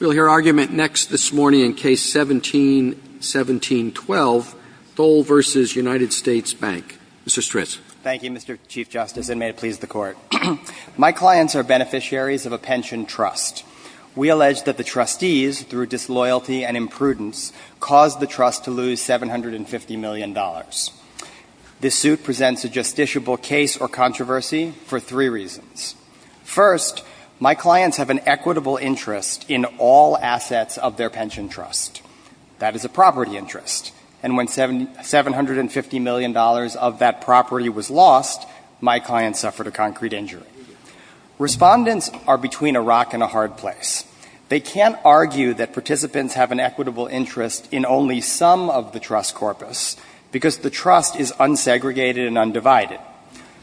We'll hear argument next this morning in Case 17-17-12, Thole v. U. S. Bank. Mr. Stritz. Thank you, Mr. Chief Justice, and may it please the Court. My clients are beneficiaries of a pension trust. We allege that the trustees, through disloyalty and imprudence, caused the trust to lose $750 million. This suit presents a justiciable case or controversy for three reasons. First, my clients have an equitable interest in all assets of their pension trust. That is a property interest. And when $750 million of that property was lost, my clients suffered a concrete injury. Respondents are between a rock and a hard place. They can't argue that participants have an equitable interest in only some of the trust corpus, because the trust is unsegregated and undivided.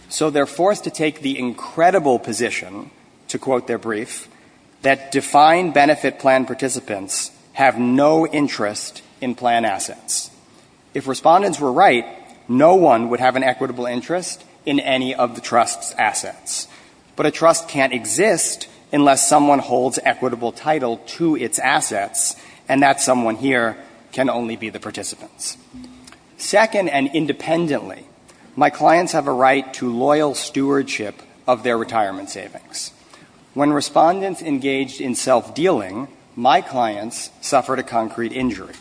So they're forced to take the incredible position, to quote their brief, that defined benefit plan participants have no interest in plan assets. If respondents were right, no one would have an equitable interest in any of the trust's assets. But a trust can't exist unless someone holds equitable title to its assets, and that someone here can only be the participants. Second, and independently, my clients have a right to loyal stewardship of their retirement savings. When respondents engaged in self-dealing, my clients suffered a concrete injury.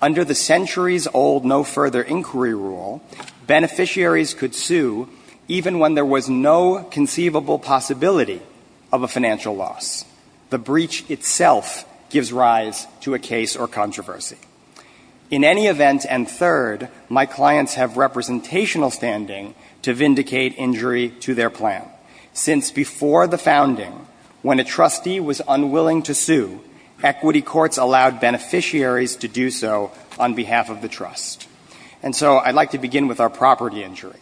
Under the centuries-old no further inquiry rule, beneficiaries could sue even when there was no conceivable possibility of a financial loss. The breach itself gives rise to a case or controversy. In any event, and third, my clients have representational standing to vindicate injury to their plan. Since before the founding, when a trustee was unwilling to sue, equity courts allowed beneficiaries to do so on behalf of the trust. And so I'd like to begin with our property injury.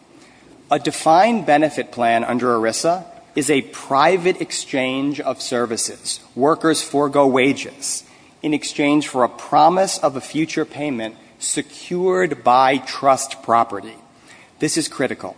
A defined benefit plan under ERISA is a private exchange of services. Workers forego wages in exchange for a promise of a future payment secured by trust property. This is critical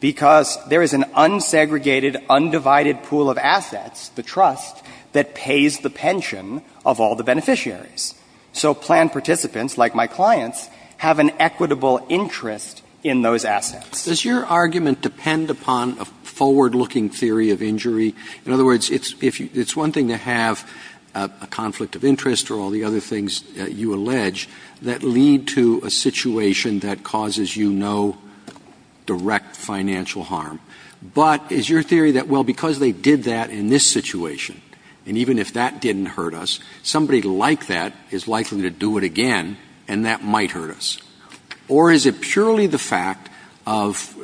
because there is an unsegregated, undivided pool of assets, the trust, that pays the pension of all the beneficiaries. So plan participants, like my clients, have an equitable interest in those assets. Does your argument depend upon a forward-looking theory of injury? In other words, it's one thing to have a conflict of interest or all the other things that you allege that lead to a situation that causes you no direct financial harm. But is your theory that, well, because they did that in this situation, and even if that didn't hurt us, somebody like that is likely to do it again, and that might hurt us? Or is it purely the fact of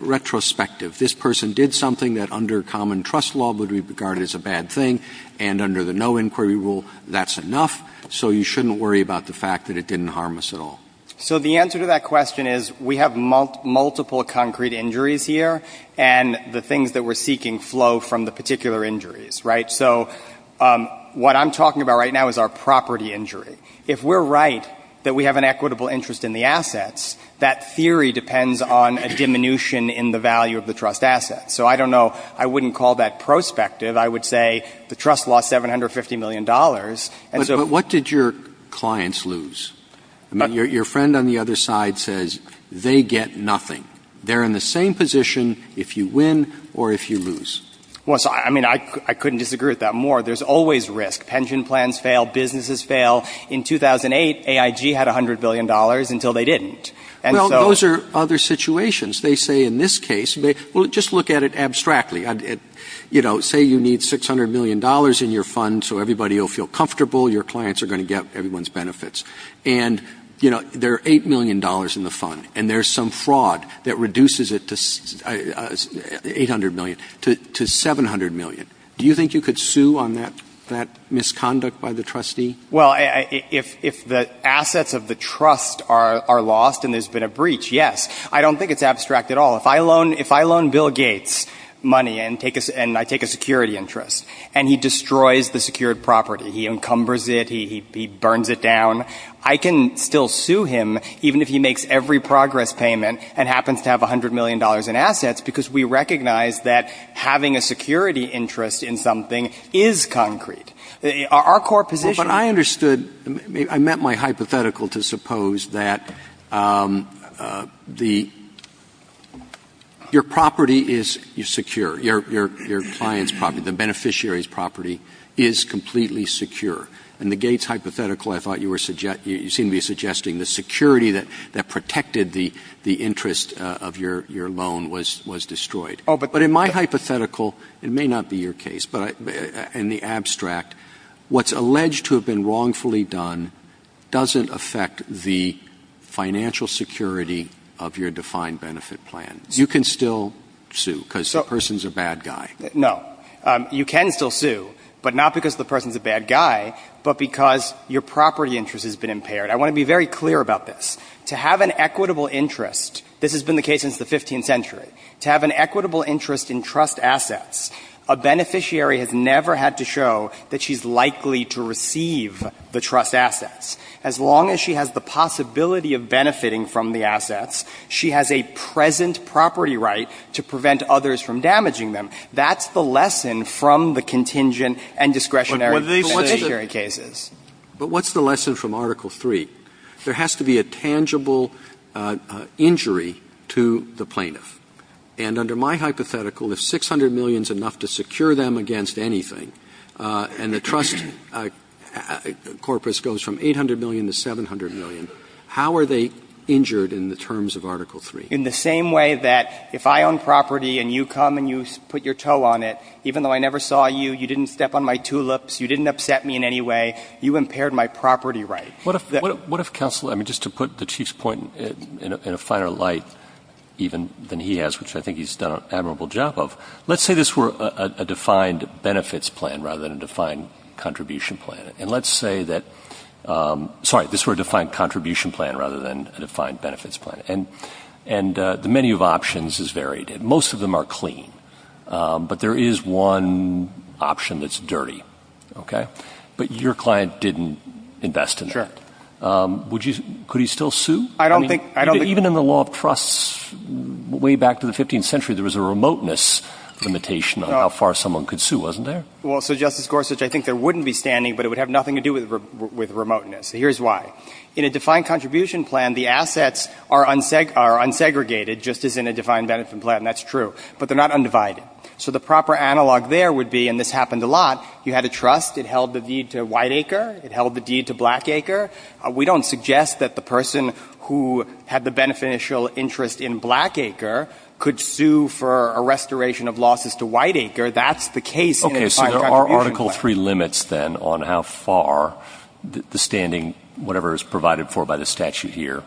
retrospective? If this person did something that under common trust law would be regarded as a bad thing, and under the no inquiry rule, that's enough, so you shouldn't worry about the fact that it didn't harm us at all? So the answer to that question is we have multiple concrete injuries here, and the things that we're seeking flow from the particular injuries, right? So what I'm talking about right now is our property injury. If we're right that we have an equitable interest in the assets, that theory depends on a diminution in the value of the trust asset. So I don't know. I wouldn't call that prospective. I would say the trust lost $750 million. And so — But what did your clients lose? I mean, your friend on the other side says they get nothing. They're in the same position if you win or if you lose. Well, I mean, I couldn't disagree with that more. There's always risk. Pension plans fail. Businesses fail. In 2008, AIG had $100 billion until they didn't. Well, those are other situations. They say in this case, well, just look at it abstractly. You know, say you need $600 million in your fund so everybody will feel comfortable. Your clients are going to get everyone's benefits. And, you know, there are $8 million in the fund, and there's some fraud that reduces it to 800 million to 700 million. Do you think you could sue on that misconduct by the trustee? Well, if the assets of the trust are lost and there's been a breach, yes. I don't think it's abstract at all. If I loan Bill Gates money and I take a security interest and he destroys the secured property, he encumbers it, he burns it down, I can still sue him even if he makes every progress payment and happens to have $100 million in assets because we recognize that having a security interest in something is concrete. Our core position — But I understood — I meant my hypothetical to suppose that the — your property is secure, your client's property, the beneficiary's property is completely secure. In the Gates hypothetical, I thought you were — you seemed to be suggesting the security that protected the interest of your loan was destroyed. Oh, but — But in my hypothetical, it may not be your case, but in the abstract, what's alleged to have been wrongfully done doesn't affect the financial security of your defined benefit plan. You can still sue because the person's a bad guy. No. You can still sue, but not because the person's a bad guy, but because your property interest has been impaired. I want to be very clear about this. To have an equitable interest — this has been the case since the 15th century — to have an equitable interest in trust assets, a beneficiary has never had to show that she's likely to receive the trust assets. As long as she has the possibility of benefiting from the assets, she has a present property right to prevent others from damaging them. That's the lesson from the contingent and discretionary cases. But what's the lesson from Article III? There has to be a tangible injury to the plaintiff. And under my hypothetical, if 600 million is enough to secure them against anything, and the trust corpus goes from 800 million to 700 million, how are they injured in the terms of Article III? In the same way that if I own property and you come and you put your toe on it, even though I never saw you, you didn't step on my tulips, you didn't upset me in any way, you impaired my property right. What if counsel — I mean, just to put the Chief's point in a finer light even than he has, which I think he's done an admirable job of, let's say this were a defined benefits plan rather than a defined contribution plan. And let's say that — sorry, this were a defined contribution plan rather than a defined benefits plan. And the menu of options is varied. Most of them are clean. But there is one option that's dirty, okay? But your client didn't invest in that. Sure. Could he still sue? I don't think — I mean, even in the law of trusts way back to the 15th century, there was a remoteness limitation on how far someone could sue, wasn't there? Well, so Justice Gorsuch, I think there wouldn't be standing, but it would have nothing to do with remoteness. Here's why. In a defined contribution plan, the assets are unsegregated just as in a defined benefit plan, and that's true. But they're not undivided. So the proper analog there would be — and this happened a lot — you had a trust, it held the deed to Whiteacre, it held the deed to Blackacre. We don't suggest that the person who had the beneficial interest in Blackacre could sue for a restoration of losses to Whiteacre. That's the case in a defined contribution plan. Okay. So there are Article III limits, then, on how far the standing, whatever is provided for by the statute here.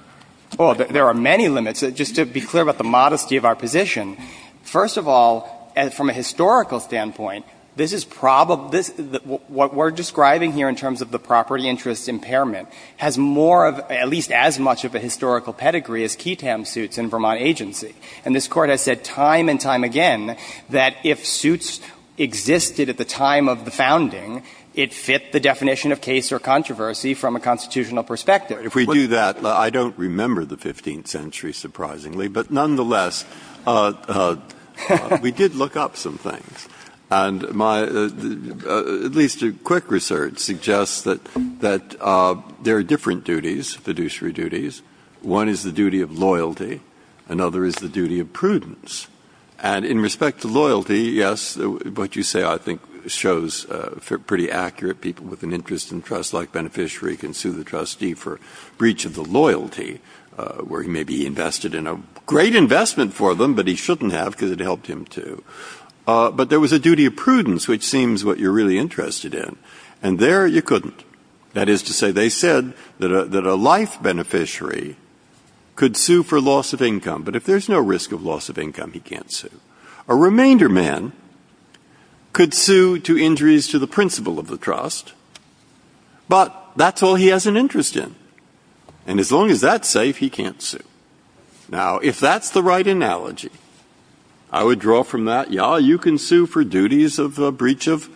Well, there are many limits. Just to be clear about the modesty of our position, first of all, from a historical standpoint, this is — what we're describing here in terms of the property interest impairment has more of — at least as much of a historical pedigree as key TAM suits in Vermont agency. And this Court has said time and time again that if suits existed at the time of the founding, it fit the definition of case or controversy from a constitutional perspective. If we do that — I don't remember the 15th century, surprisingly, but nonetheless, we did look up some things. And my — at least quick research suggests that there are different duties, fiduciary duties. One is the duty of loyalty. Another is the duty of prudence. And in respect to loyalty, yes, what you say, I think, shows pretty accurate. People with an interest in trust-like beneficiary can sue the trustee for breach of the loyalty, where he may be invested in a great investment for them, but he shouldn't have because it helped him to. But there was a duty of prudence, which seems what you're really interested in. And there, you couldn't. That is to say, they said that a life beneficiary could sue for loss of income. But if there's no risk of loss of income, he can't sue. A remainder man could sue to injuries to the principle of the trust, but that's all he has an interest in. And as long as that's safe, he can't sue. Now, if that's the right analogy, I would draw from that, yeah, you can sue for duties of a breach of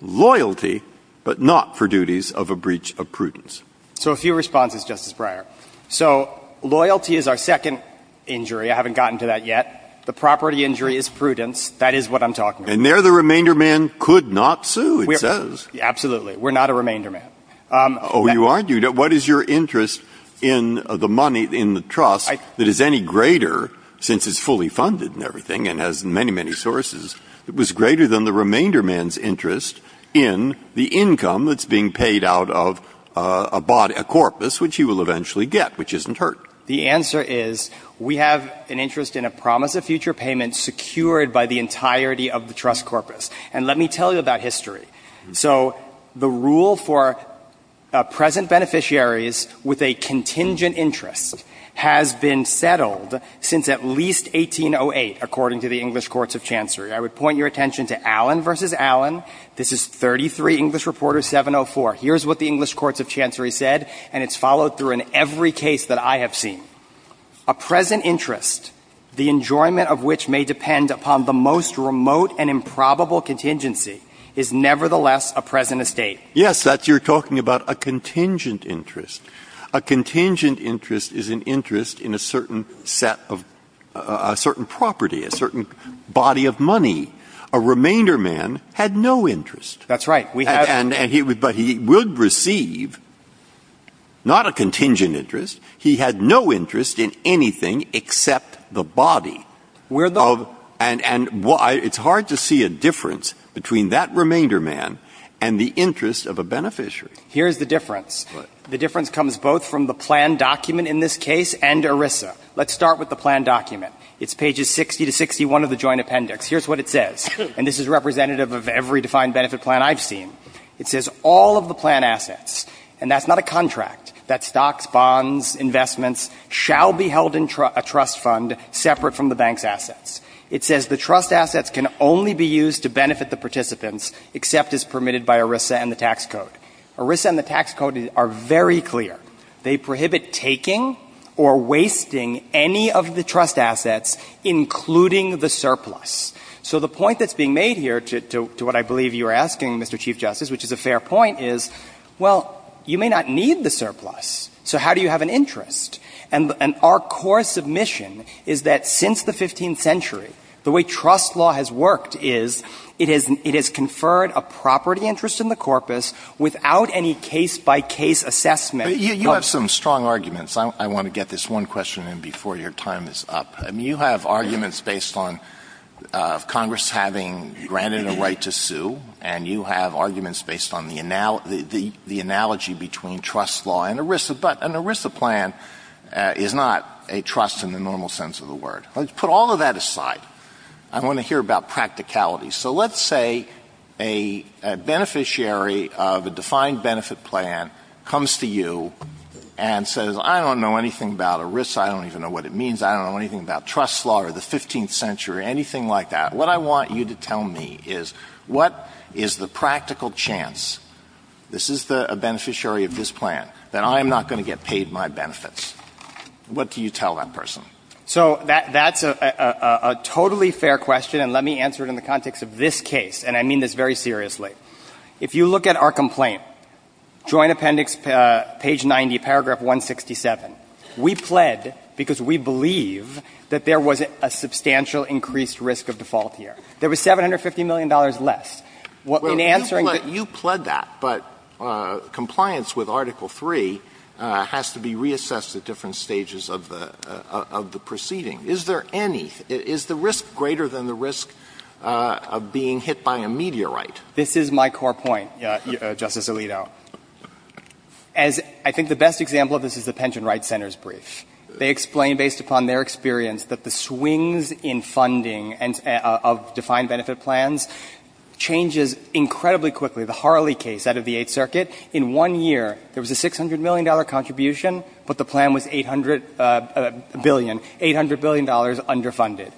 loyalty, but not for duties of a breach of prudence. So a few responses, Justice Breyer. So loyalty is our second injury. I haven't gotten to that yet. The property injury is prudence. That is what I'm talking about. And there, the remainder man could not sue, it says. Absolutely. We're not a remainder man. Oh, you aren't? What is your interest in the money in the trust that is any greater, since it's fully interest in the income that's being paid out of a body, a corpus, which he will eventually get, which isn't hurt? The answer is we have an interest in a promise of future payment secured by the entirety of the trust corpus. And let me tell you about history. So the rule for present beneficiaries with a contingent interest has been settled since at least 1808, according to the English courts of chancery. I would point your attention to Allen v. Allen. This is 33 English reporter 704. Here's what the English courts of chancery said, and it's followed through in every case that I have seen. A present interest, the enjoyment of which may depend upon the most remote and improbable contingency, is nevertheless a present estate. Yes, that's you're talking about a contingent interest. A contingent interest is an interest in a certain set of — a certain property, a certain body of money. A remainder man had no interest. That's right. We have — But he would receive not a contingent interest. He had no interest in anything except the body. We're the — And it's hard to see a difference between that remainder man and the interest of a beneficiary. Here's the difference. The difference comes both from the planned document in this case and ERISA. Let's start with the planned document. It's pages 60 to 61 of the Joint Appendix. Here's what it says, and this is representative of every defined benefit plan I've seen. It says all of the planned assets, and that's not a contract, that stocks, bonds, investments, shall be held in a trust fund separate from the bank's assets. It says the trust assets can only be used to benefit the participants except as permitted by ERISA and the tax code. ERISA and the tax code are very clear. They prohibit taking or wasting any of the trust assets, including the surplus. So the point that's being made here, to what I believe you were asking, Mr. Chief Justice, which is a fair point, is, well, you may not need the surplus, so how do you have an interest? And our core submission is that since the 15th century, the way trust law has worked is it has conferred a property interest in the corpus without any case-by-case assessment. Alito, you have some strong arguments. I want to get this one question in before your time is up. I mean, you have arguments based on Congress having granted a right to sue, and you have arguments based on the analogy between trust law and ERISA. But an ERISA plan is not a trust in the normal sense of the word. Let's put all of that aside. I want to hear about practicality. So let's say a beneficiary of a defined benefit plan comes to you and says, I don't know anything about ERISA. I don't even know what it means. I don't know anything about trust law or the 15th century, anything like that. What I want you to tell me is, what is the practical chance, this is a beneficiary of this plan, that I am not going to get paid my benefits? What do you tell that person? So that's a totally fair question, and let me answer it in the context of this case. And I mean this very seriously. If you look at our complaint, Joint Appendix, page 90, paragraph 167, we pled because we believe that there was a substantial increased risk of default here. There was $750 million less. In answering the question. Alito, you pled that, but compliance with Article III has to be reassessed at different stages of the proceeding. Is there any? Is the risk greater than the risk of being hit by a meteorite? This is my core point, Justice Alito. As I think the best example of this is the Pension Rights Center's brief. They explain, based upon their experience, that the swings in funding of defined benefit plans changes incredibly quickly. The Harley case out of the Eighth Circuit, in one year there was a $600 million contribution, but the plan was 800 billion, $800 billion underfunded.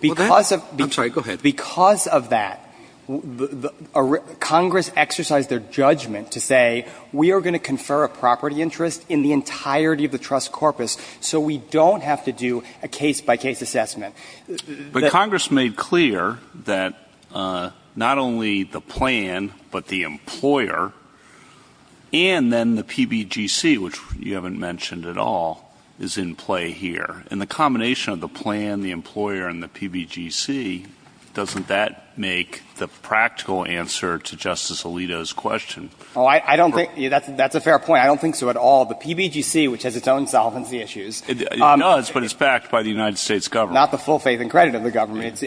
Because of. I'm sorry, go ahead. Because of that, Congress exercised their judgment to say, we are going to confer a property interest in the entirety of the trust corpus, so we don't have to do a case by case assessment. But Congress made clear that not only the plan, but the employer, and then the PBGC which you haven't mentioned at all, is in play here. And the combination of the plan, the employer, and the PBGC, doesn't that make the practical answer to Justice Alito's question? Oh, I don't think that's a fair point. I don't think so at all. The PBGC, which has its own solvency issues. It does, but it's backed by the United States government. Not the full faith and credit of the government.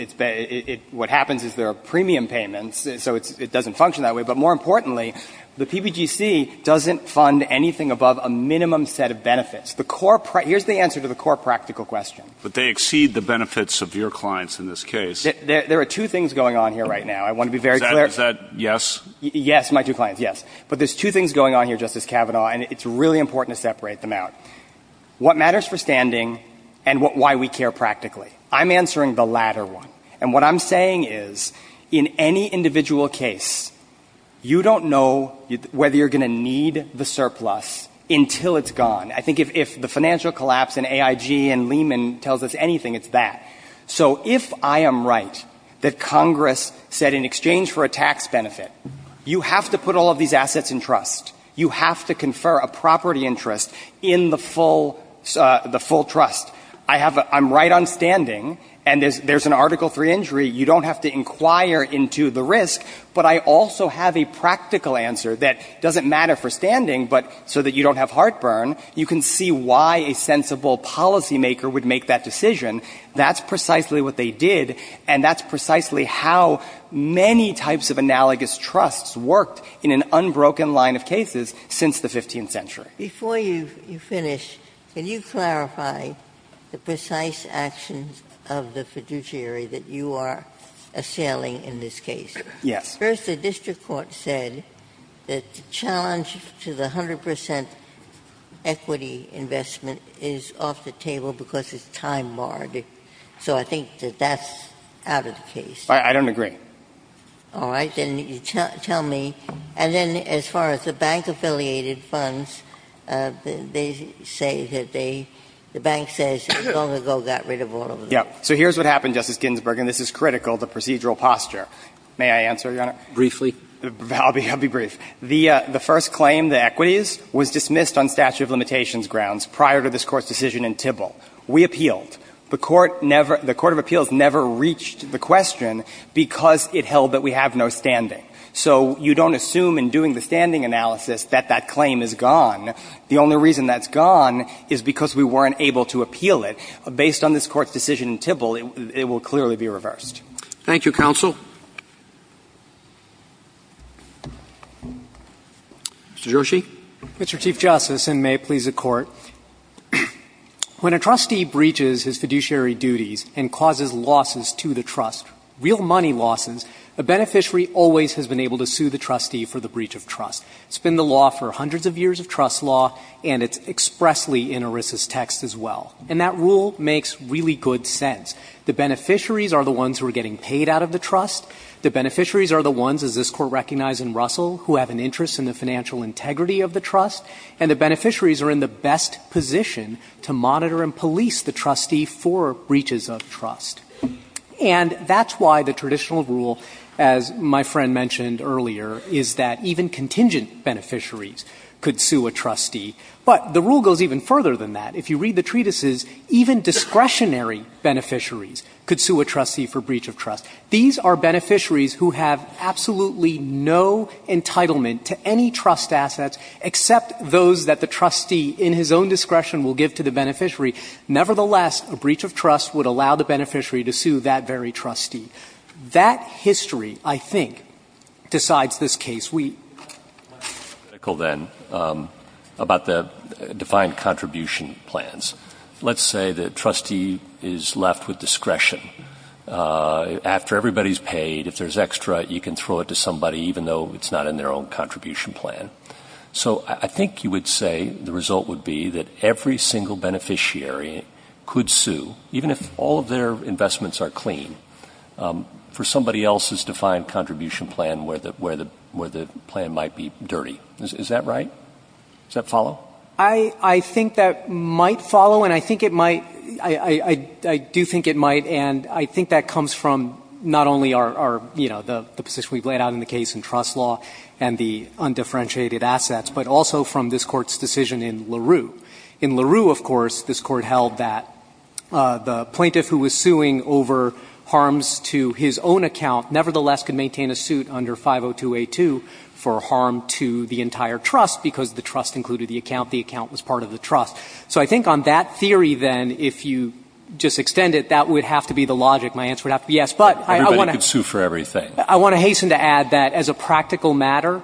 What happens is there are premium payments, so it doesn't function that way. But more importantly, the PBGC doesn't fund anything above a minimum set of benefits. Here's the answer to the core practical question. But they exceed the benefits of your clients in this case. There are two things going on here right now. I want to be very clear. Is that yes? Yes, my two clients, yes. But there's two things going on here, Justice Kavanaugh, and it's really important to separate them out. What matters for standing, and why we care practically. I'm answering the latter one. And what I'm saying is in any individual case, you don't know whether you're going to need the surplus until it's gone. I think if the financial collapse in AIG and Lehman tells us anything, it's that. So if I am right that Congress said in exchange for a tax benefit, you have to put all of these assets in trust. You have to confer a property interest in the full trust. I'm right on standing, and there's an Article III injury. You don't have to inquire into the risk. But I also have a practical answer that doesn't matter for standing, but so that you don't have heartburn, you can see why a sensible policymaker would make that decision. That's precisely what they did, and that's precisely how many types of analogous trusts worked in an unbroken line of cases since the 15th century. Ginsburg. Before you finish, can you clarify the precise actions of the fiduciary that you are assailing in this case? Yes. First, the district court said that the challenge to the 100 percent equity investment is off the table because it's time-barred. So I think that that's out of the case. I don't agree. All right. Then you tell me. And then as far as the bank-affiliated funds, they say that they – the bank says it long ago got rid of all of them. Yeah. So here's what happened, Justice Ginsburg, and this is critical to procedural posture. May I answer, Your Honor? Briefly. I'll be brief. The first claim, the equities, was dismissed on statute of limitations grounds prior to this Court's decision in Tybill. We appealed. The Court never – the court of appeals never reached the question because it held that we have no standing. So you don't assume in doing the standing analysis that that claim is gone. The only reason that's gone is because we weren't able to appeal it. Based on this Court's decision in Tybill, it will clearly be reversed. Thank you, counsel. Mr. Joshi. Mr. Chief Justice, and may it please the Court. When a trustee breaches his fiduciary duties and causes losses to the trust, real money losses, the beneficiary always has been able to sue the trustee for the breach of trust. It's been the law for hundreds of years of trust law, and it's expressly in ERISA's text as well. And that rule makes really good sense. The beneficiaries are the ones who are getting paid out of the trust. The beneficiaries are the ones, as this Court recognized in Russell, who have an interest in the financial integrity of the trust. And the beneficiaries are in the best position to monitor and police the trustee for breaches of trust. And that's why the traditional rule, as my friend mentioned earlier, is that even contingent beneficiaries could sue a trustee. But the rule goes even further than that. If you read the treatises, even discretionary beneficiaries could sue a trustee for breach of trust. These are beneficiaries who have absolutely no entitlement to any trust assets except those that the trustee in his own discretion will give to the beneficiary. Nevertheless, a breach of trust would allow the beneficiary to sue that very trustee. That history, I think, decides this case. MR. BOUTROUS. Let's be critical, then, about the defined contribution plans. Let's say the trustee is left with discretion. After everybody's paid, if there's extra, you can throw it to somebody, even though it's not in their own contribution plan. So I think you would say the result would be that every single beneficiary could sue, even if all of their investments are clean, for somebody else's defined contribution plan where the plan might be dirty. Is that right? Does that follow? MR. CLEMENT. I think that might follow, and I think it might. I do think it might. And I think that comes from not only our, you know, the position we've laid out in the case in trust law and the undifferentiated assets, but also from this Court's decision in LaRue. In LaRue, of course, this Court held that the plaintiff who was suing over harms to his own account nevertheless could maintain a suit under 502a2 for harm to the entire trust, because the trust included the account. The account was part of the trust. So I think on that theory, then, if you just extend it, that would have to be the logic. My answer would have to be yes. But I want to hasten to add that. As a practical matter,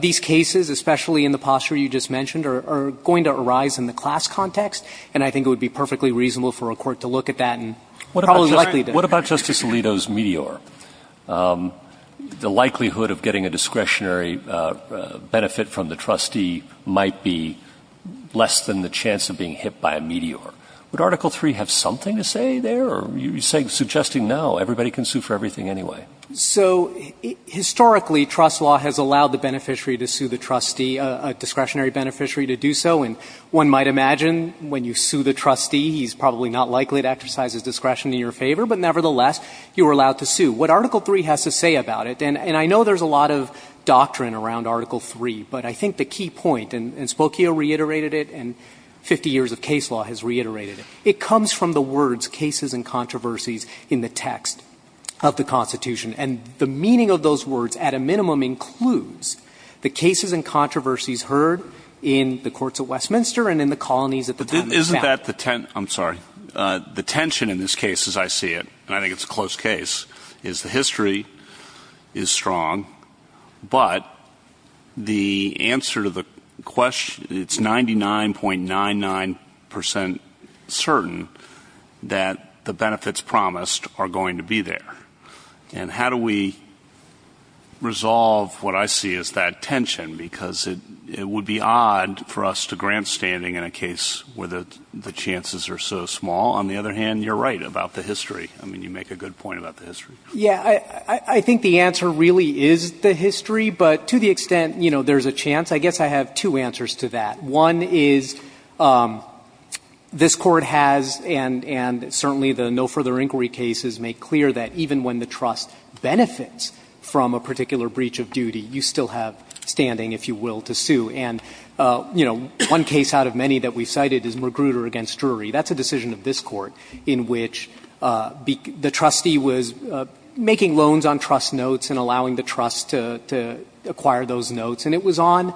these cases, especially in the posture you just mentioned, are going to arise in the class context, and I think it would be perfectly reasonable for a court to look at that and probably likely to. What about Justice Alito's meteor? The likelihood of getting a discretionary benefit from the trustee might be less than the chance of being hit by a meteor. Would Article III have something to say there? You're suggesting now everybody can sue for everything anyway. So historically, trust law has allowed the beneficiary to sue the trustee, a discretionary beneficiary, to do so. And one might imagine when you sue the trustee, he's probably not likely to exercise his discretion in your favor. But nevertheless, you are allowed to sue. What Article III has to say about it, and I know there's a lot of doctrine around Article III, but I think the key point, and Spokio reiterated it and 50 years of case law has reiterated it, it comes from the words cases and controversies in the text of the Constitution. And the meaning of those words, at a minimum, includes the cases and controversies heard in the courts at Westminster and in the colonies at the top of the map. Isn't that the tension? I'm sorry. The tension in this case, as I see it, and I think it's a close case, is the history is strong, but the answer to the question, it's 99.99 percent certain that the benefits promised are going to be there. And how do we resolve what I see as that tension? Because it would be odd for us to grant standing in a case where the chances are so small. On the other hand, you're right about the history. I mean, you make a good point about the history. Yeah. I think the answer really is the history, but to the extent, you know, there's a chance, I guess I have two answers to that. One is this Court has and certainly the no further inquiry cases make clear that even when the trust benefits from a particular breach of duty, you still have standing, if you will, to sue. And, you know, one case out of many that we cited is Magruder v. Drury. That's a decision of this Court in which the trustee was making loans on trust notes and allowing the trust to acquire those notes. And it was on,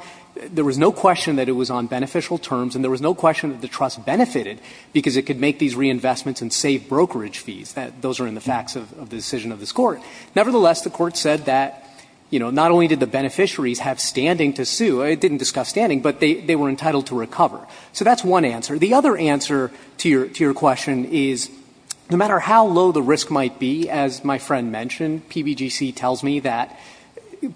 there was no question that it was on beneficial terms and there was no question that the trust benefited because it could make these reinvestments and save brokerage fees. Those are in the facts of the decision of this Court. Nevertheless, the Court said that, you know, not only did the beneficiaries have standing to sue, it didn't discuss standing, but they were entitled to recover. So that's one answer. The other answer to your question is no matter how low the risk might be, as my friend mentioned, PBGC tells me that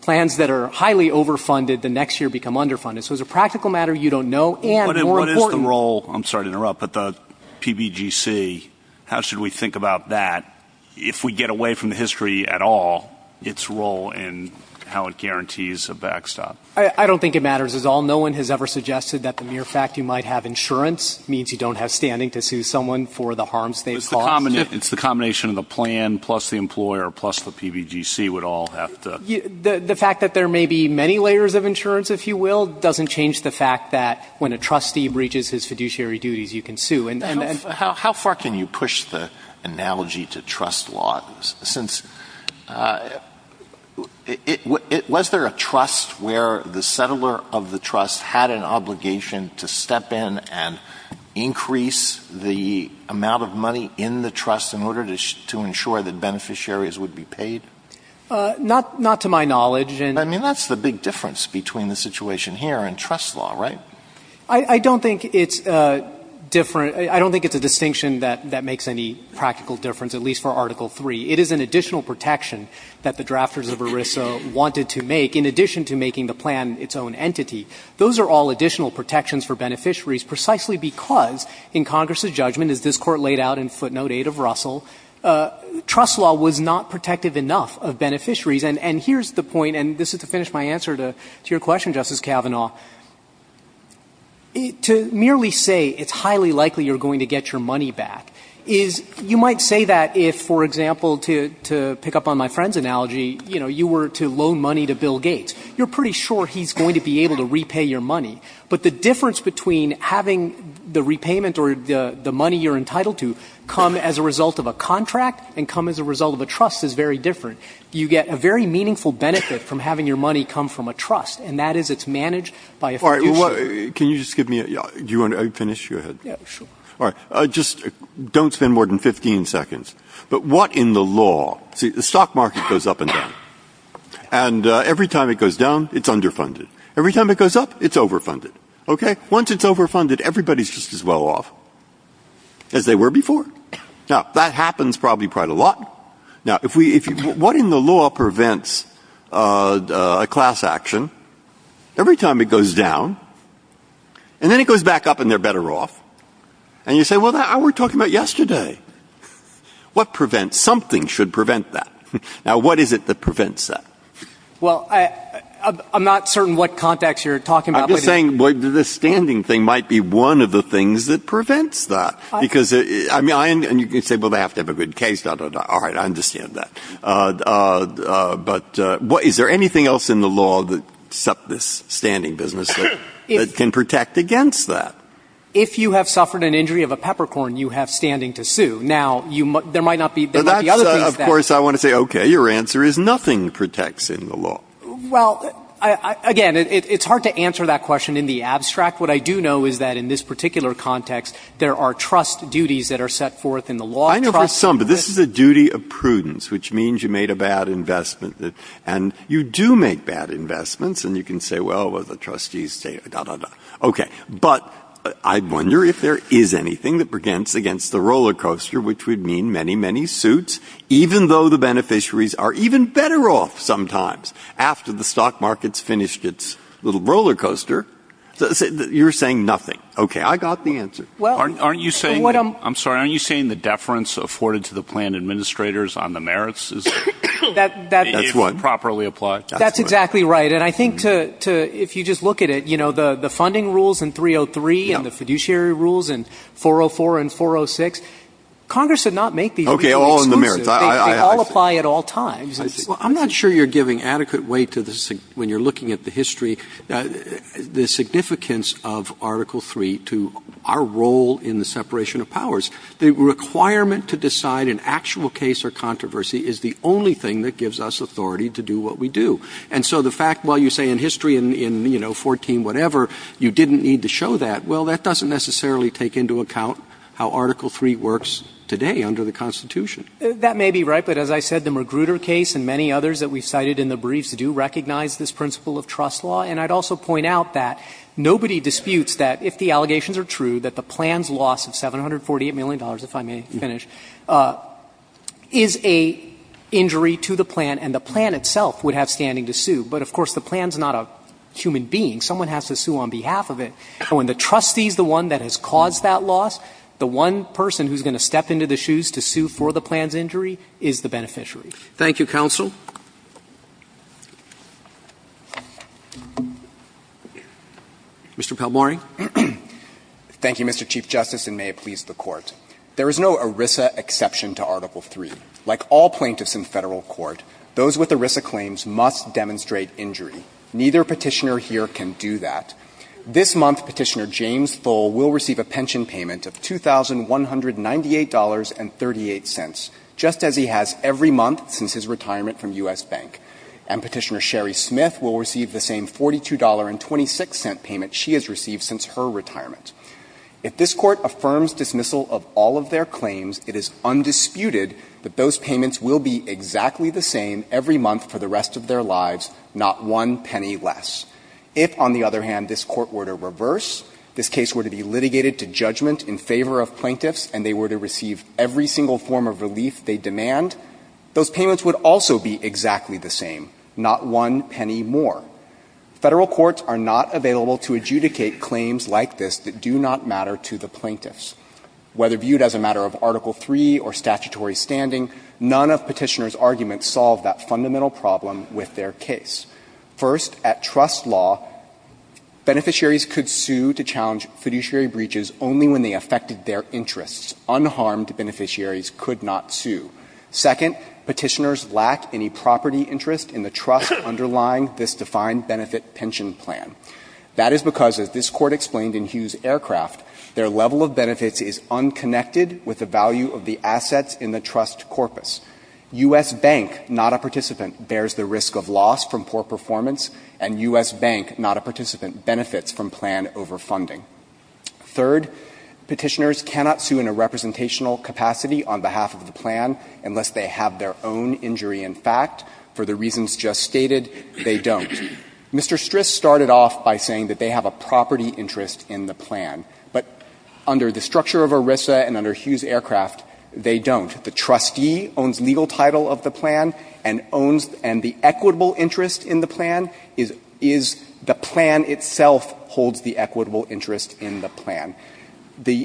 plans that are highly overfunded the next year become underfunded. So it's a practical matter you don't know and more important. What is the role, I'm sorry to interrupt, but the PBGC, how should we think about that if we get away from the history at all, its role and how it guarantees a backstop? I don't think it matters at all. No one has ever suggested that the mere fact you might have insurance means you don't have standing to sue someone for the harms they've caused. It's the combination of the plan plus the employer plus the PBGC would all have to The fact that there may be many layers of insurance, if you will, doesn't change the fact that when a trustee breaches his fiduciary duties, you can sue. How far can you push the analogy to trust laws? Since, was there a trust where the settler of the trust had an obligation to step in and increase the amount of money in the trust in order to ensure that beneficiaries would be paid? Not to my knowledge. I mean, that's the big difference between the situation here and trust law, right? I don't think it's different. I don't think it's a distinction that makes any practical difference, at least for Article III. It is an additional protection that the drafters of ERISA wanted to make in addition to making the plan its own entity. Those are all additional protections for beneficiaries precisely because in Congress' judgment, as this Court laid out in footnote 8 of Russell, trust law was not protective enough of beneficiaries. And here's the point, and this is to finish my answer to your question, Justice Kavanaugh, to merely say it's highly likely you're going to get your money back is you might say that if, for example, to pick up on my friend's analogy, you know, you were to loan money to Bill Gates. You're pretty sure he's going to be able to repay your money. But the difference between having the repayment or the money you're entitled to come as a result of a contract and come as a result of a trust is very different. You get a very meaningful benefit from having your money come from a trust, and that is it's managed by a fiduciary. Breyer. Can you just give me a – do you want to finish? Go ahead. Yeah, sure. All right. Just don't spend more than 15 seconds. But what in the law – see, the stock market goes up and down. And every time it goes down, it's underfunded. Every time it goes up, it's overfunded. Okay? Once it's overfunded, everybody's just as well off as they were before. Now, that happens probably quite a lot. Now, if we – what in the law prevents a class action every time it goes down, and then it goes back up and they're better off? And you say, well, that's what we were talking about yesterday. What prevents – something should prevent that. Now, what is it that prevents that? Well, I'm not certain what context you're talking about. I'm just saying the standing thing might be one of the things that prevents that. Because – and you can say, well, they have to have a good case. All right. I understand that. But is there anything else in the law except this standing business that can protect against that? If you have suffered an injury of a peppercorn, you have standing to sue. Now, there might not be – there might be other things that – Of course, I want to say, okay, your answer is nothing protects in the law. Well, again, it's hard to answer that question in the abstract. What I do know is that in this particular context, there are trust duties that are set forth in the law. I know for some, but this is a duty of prudence, which means you made a bad investment that – and you do make bad investments, and you can say, well, the trustees say da-da-da. Okay. But I wonder if there is anything that prevents against the roller coaster, which would mean many, many suits, even though the beneficiaries are even better off sometimes after the stock market's finished its little roller coaster. You're saying nothing. Okay. I got the answer. Well – Aren't you saying – I'm sorry. Aren't you saying the deference afforded to the plan administrators on the merits is – That's what – If properly applied. That's exactly right. And I think to – if you just look at it, you know, the funding rules in 303 and the Okay. All in the merits. I see. They all apply at all times. I see. Well, I'm not sure you're giving adequate weight to the – when you're looking at the history, the significance of Article III to our role in the separation of powers. The requirement to decide an actual case or controversy is the only thing that gives us authority to do what we do. And so the fact, while you say in history in, you know, 14-whatever, you didn't need to show that, well, that doesn't necessarily take into account how Article III works today under the Constitution. That may be right. But as I said, the Magruder case and many others that we cited in the briefs do recognize this principle of trust law. And I'd also point out that nobody disputes that if the allegations are true, that the plan's loss of $748 million, if I may finish, is a injury to the plan, and the plan itself would have standing to sue. But, of course, the plan's not a human being. Someone has to sue on behalf of it. And when the trustee is the one that has caused that loss, the one person who's going to step into the shoes to sue for the plan's injury is the beneficiary. Roberts. Thank you, counsel. Mr. Palmorey. Thank you, Mr. Chief Justice, and may it please the Court. There is no ERISA exception to Article III. Like all plaintiffs in Federal court, those with ERISA claims must demonstrate injury. Neither Petitioner here can do that. This month Petitioner James Thull will receive a pension payment of $2,198.38, just as he has every month since his retirement from U.S. Bank. And Petitioner Sherry Smith will receive the same $42.26 payment she has received since her retirement. If this Court affirms dismissal of all of their claims, it is undisputed that those payments will be exactly the same every month for the rest of their lives, not one penny less. If, on the other hand, this Court were to reverse, this case were to be litigated to judgment in favor of plaintiffs, and they were to receive every single form of relief they demand, those payments would also be exactly the same, not one penny more. Federal courts are not available to adjudicate claims like this that do not matter to the plaintiffs. Whether viewed as a matter of Article III or statutory standing, none of Petitioner's arguments solve that fundamental problem with their case. First, at trust law, beneficiaries could sue to challenge fiduciary breaches only when they affected their interests. Unharmed beneficiaries could not sue. Second, Petitioners lack any property interest in the trust underlying this defined benefit pension plan. That is because, as this Court explained in Hughes Aircraft, their level of benefits is unconnected with the value of the assets in the trust corpus. U.S. Bank, not a participant, bears the risk of loss from poor performance, and U.S. Bank, not a participant, benefits from plan overfunding. Third, Petitioners cannot sue in a representational capacity on behalf of the plan unless they have their own injury in fact. For the reasons just stated, they don't. Mr. Stris started off by saying that they have a property interest in the plan. But under the structure of ERISA and under Hughes Aircraft, they don't. The trustee owns legal title of the plan and owns the equitable interest in the plan is the plan itself holds the equitable interest in the plan. The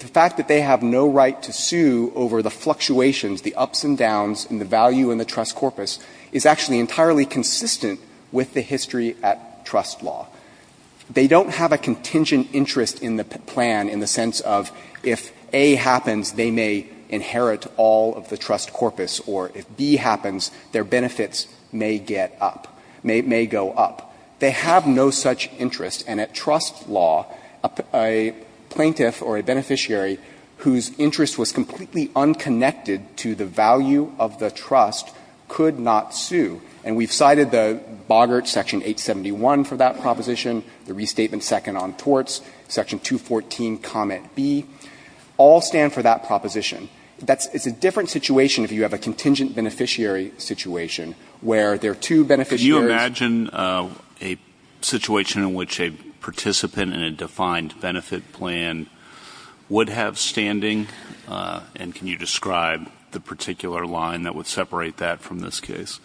fact that they have no right to sue over the fluctuations, the ups and downs in the value in the trust corpus is actually entirely consistent with the history at trust law. They don't have a contingent interest in the plan in the sense of if A happens, they may inherit all of the trust corpus, or if B happens, their benefits may get up, may go up. They have no such interest. And at trust law, a plaintiff or a beneficiary whose interest was completely unconnected to the value of the trust could not sue. And we've cited the Boggart Section 871 for that proposition, the Restatement Second on Torts, Section 214, Comment B, all stand for that proposition. That's a different situation if you have a contingent beneficiary situation where there are two beneficiaries. Can you imagine a situation in which a participant in a defined benefit plan would have standing? And can you describe the particular line that would separate that from this case?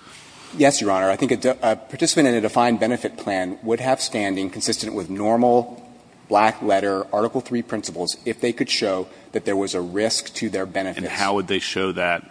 Yes, Your Honor. I think a participant in a defined benefit plan would have standing consistent with normal, black letter, Article III principles if they could show that there was a risk to their benefits. And how would they show that?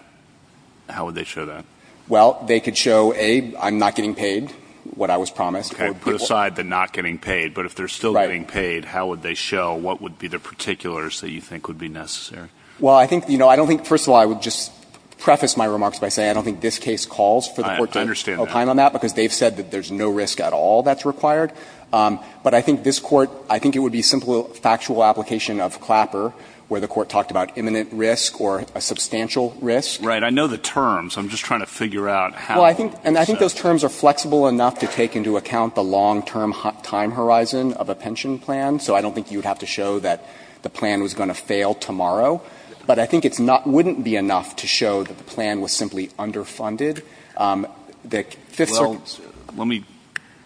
How would they show that? Well, they could show, A, I'm not getting paid, what I was promised. Okay. Put aside the not getting paid. Right. But if they're still getting paid, how would they show what would be the particulars that you think would be necessary? Well, I think, you know, I don't think, first of all, I would just preface my remarks by saying I don't think this case calls for the Court to opine on that. I understand that. Because they've said that there's no risk at all that's required. But I think this Court, I think it would be simple factual application of Clapper where the Court talked about imminent risk or a substantial risk. Right. I know the terms. I'm just trying to figure out how. Well, I think those terms are flexible enough to take into account the long-term time horizon of a pension plan. So I don't think you would have to show that the plan was going to fail tomorrow. But I think it's not – wouldn't be enough to show that the plan was simply underfunded. The Fifth Circuit's – Well, let me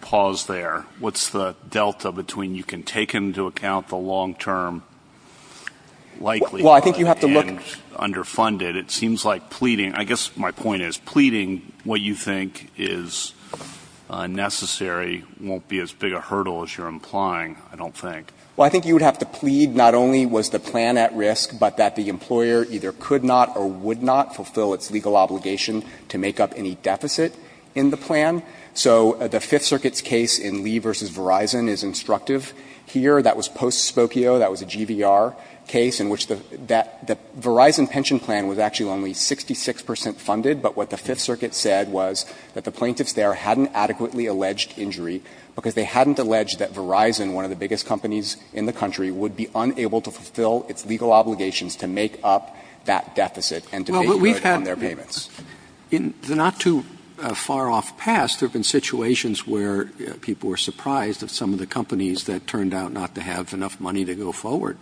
pause there. What's the delta between you can take into account the long-term likelihood and underfunded? It seems like pleading – I guess my point is pleading what you think is necessary won't be as big a hurdle as you're implying, I don't think. Well, I think you would have to plead not only was the plan at risk, but that the employer either could not or would not fulfill its legal obligation to make up any deficit in the plan. So the Fifth Circuit's case in Lee v. Verizon is instructive. Here, that was post-Spokio. That was a GVR case in which the Verizon pension plan was actually only 66 percent funded. But what the Fifth Circuit said was that the plaintiffs there hadn't adequately alleged injury because they hadn't alleged that Verizon, one of the biggest companies in the country, would be unable to fulfill its legal obligations to make up that deficit and to make good on their payments. Well, what we've had – in the not-too-far-off past, there have been situations where people were surprised at some of the companies that turned out not to have enough money to go forward.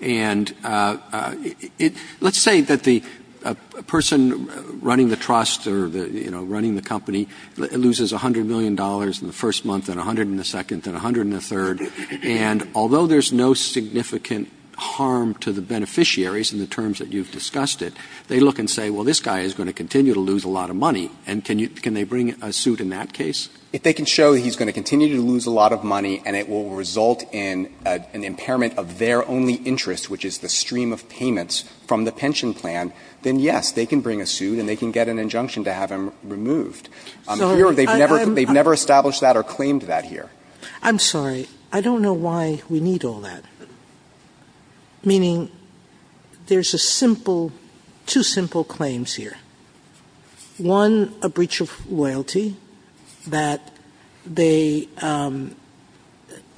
And let's say that the person running the trust or, you know, running the company loses $100 million in the first month and $100 in the second and $100 in the third. And although there's no significant harm to the beneficiaries in the terms that you've discussed it, they look and say, well, this guy is going to continue to lose a lot of money, and can they bring a suit in that case? If they can show he's going to continue to lose a lot of money and it will result in an impairment of their only interest, which is the stream of payments from the pension plan, then, yes, they can bring a suit and they can get an injunction to have him removed. Here, they've never established that or claimed that here. I'm sorry. I don't know why we need all that. Meaning there's a simple – two simple claims here. One, a breach of loyalty that they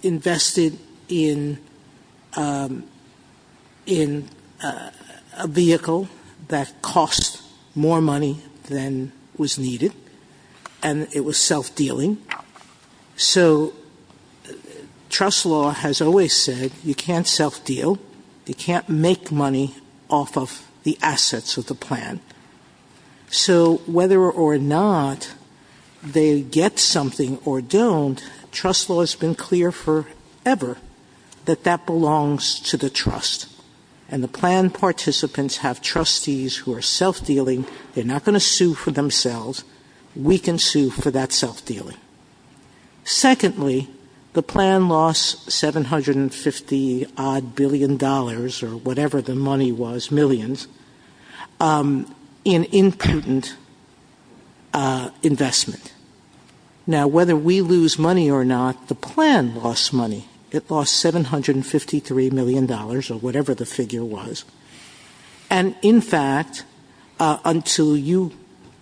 invested in a vehicle that cost more money than was needed, and it was self-dealing. So trust law has always said you can't self-deal. You can't make money off of the assets of the plan. So whether or not they get something or don't, trust law has been clear forever that that belongs to the trust. And the plan participants have trustees who are self-dealing. They're not going to sue for themselves. We can sue for that self-dealing. Secondly, the plan lost $750-odd billion or whatever the money was, millions, in impotent investment. Now, whether we lose money or not, the plan lost money. It lost $753 million or whatever the figure was. And, in fact, until you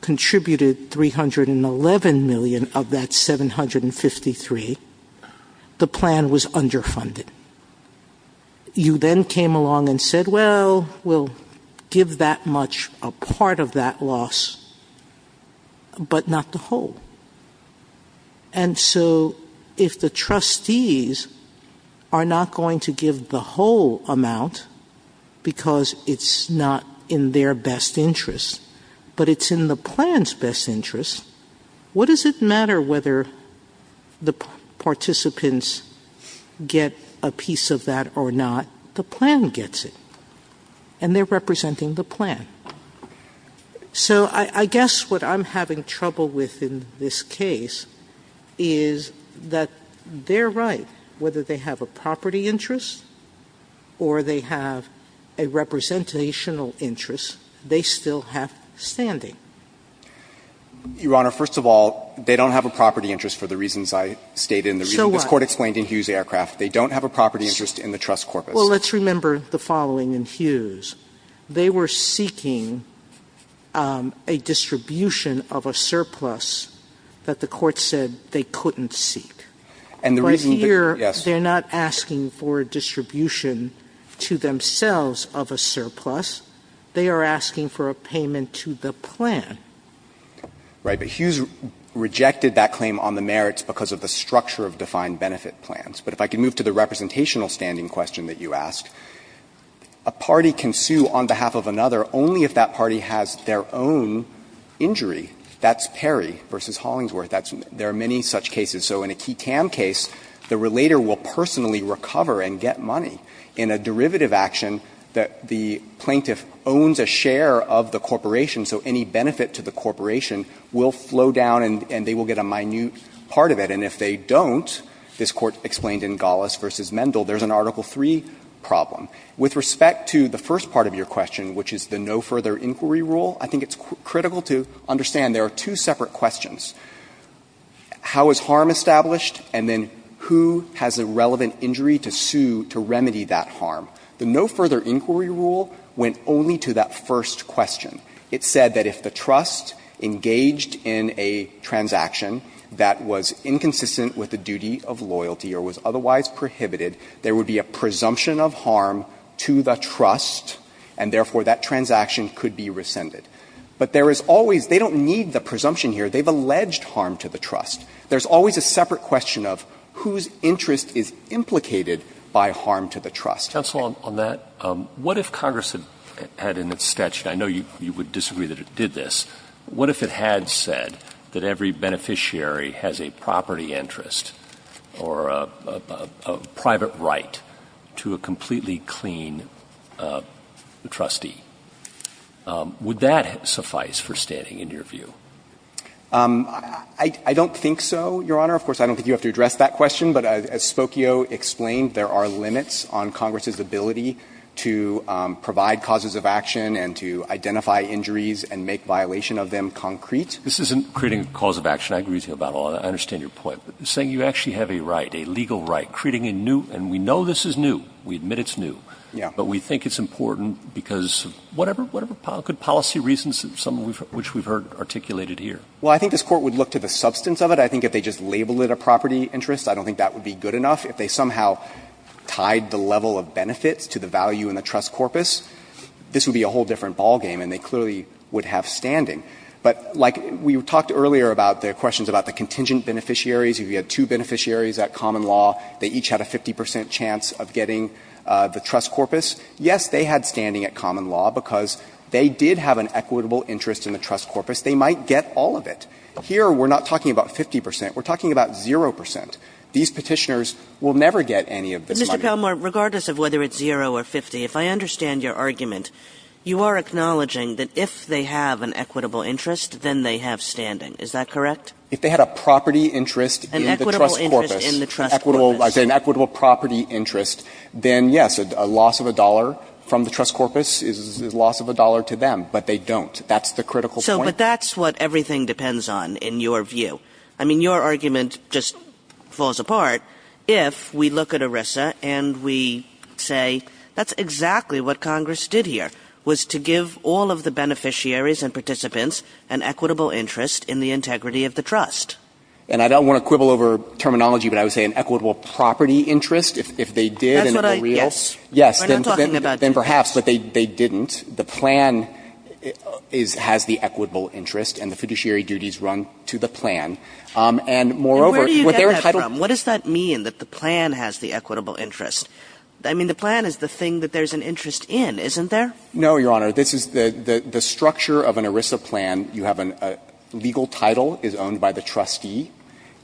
contributed $311 million of that $753 million, the plan was underfunded. You then came along and said, well, we'll give that much a part of that loss but not the whole. And so if the trustees are not going to give the whole amount because it's not in their best interest but it's in the plan's best interest, what does it matter whether the participants get a piece of that or not? The plan gets it, and they're representing the plan. So I guess what I'm having trouble with in this case is that they're right. Whether they have a property interest or they have a representational interest, they still have standing. Your Honor, first of all, they don't have a property interest for the reasons I stated and the reason this Court explained in Hughes Aircraft. They don't have a property interest in the trust corpus. Well, let's remember the following in Hughes. They were seeking a distribution of a surplus that the Court said they couldn't seek. But here, they're not asking for a distribution to themselves of a surplus. They are asking for a payment to the plan. Right. But Hughes rejected that claim on the merits because of the structure of defined benefit plans. But if I could move to the representational standing question that you asked, a party can sue on behalf of another only if that party has their own injury. That's Perry v. Hollingsworth. There are many such cases. So in a Ketam case, the relator will personally recover and get money. In a derivative action, the plaintiff owns a share of the corporation, so any benefit to the corporation will flow down and they will get a minute part of it. And if they don't, this Court explained in Gallas v. Mendel, there's an Article III problem. With respect to the first part of your question, which is the no further inquiry rule, I think it's critical to understand there are two separate questions. How is harm established? And then who has a relevant injury to sue to remedy that harm? The no further inquiry rule went only to that first question. It said that if the trust engaged in a transaction that was inconsistent with the duty of loyalty or was otherwise prohibited, there would be a presumption of harm to the trust and, therefore, that transaction could be rescinded. But there is always they don't need the presumption here. They've alleged harm to the trust. There's always a separate question of whose interest is implicated by harm to the trust. Roberts, counsel, on that, what if Congress had in its statute, I know you would disagree that it did this, what if it had said that every beneficiary has a property interest or a private right to a completely clean trustee? Would that suffice for standing in your view? I don't think so, Your Honor. Of course, I don't think you have to address that question. But as Spokio explained, there are limits on Congress's ability to provide causes of action and to identify injuries and make violation of them concrete. This isn't creating a cause of action. I agree with you about all that. I understand your point. But saying you actually have a right, a legal right, creating a new, and we know this is new. We admit it's new. Yeah. But we think it's important because whatever policy reasons, some of which we've heard articulated here. Well, I think this Court would look to the substance of it. I think if they just label it a property interest. I don't think that would be good enough. If they somehow tied the level of benefits to the value in the trust corpus, this would be a whole different ballgame and they clearly would have standing. But like we talked earlier about the questions about the contingent beneficiaries. If you had two beneficiaries at common law, they each had a 50 percent chance of getting the trust corpus. Yes, they had standing at common law because they did have an equitable interest in the trust corpus. They might get all of it. Here, we're not talking about 50 percent. We're talking about zero percent. These Petitioners will never get any of this money. Mr. Palmore, regardless of whether it's zero or 50, if I understand your argument, you are acknowledging that if they have an equitable interest, then they have standing. Is that correct? If they had a property interest in the trust corpus, an equitable property interest, then, yes, a loss of a dollar from the trust corpus is a loss of a dollar to them. But they don't. That's the critical point. But that's what everything depends on in your view. I mean, your argument just falls apart if we look at ERISA and we say that's exactly what Congress did here, was to give all of the beneficiaries and participants an equitable interest in the integrity of the trust. And I don't want to quibble over terminology, but I would say an equitable property If they did and the reals. That's what I – yes. Yes. We're not talking about. Then perhaps, but they didn't. The plan is – has the equitable interest and the fiduciary duties run to the plan. And moreover, with their title – And where do you get that from? What does that mean, that the plan has the equitable interest? I mean, the plan is the thing that there's an interest in, isn't there? No, Your Honor. This is the structure of an ERISA plan. You have a legal title is owned by the trustee,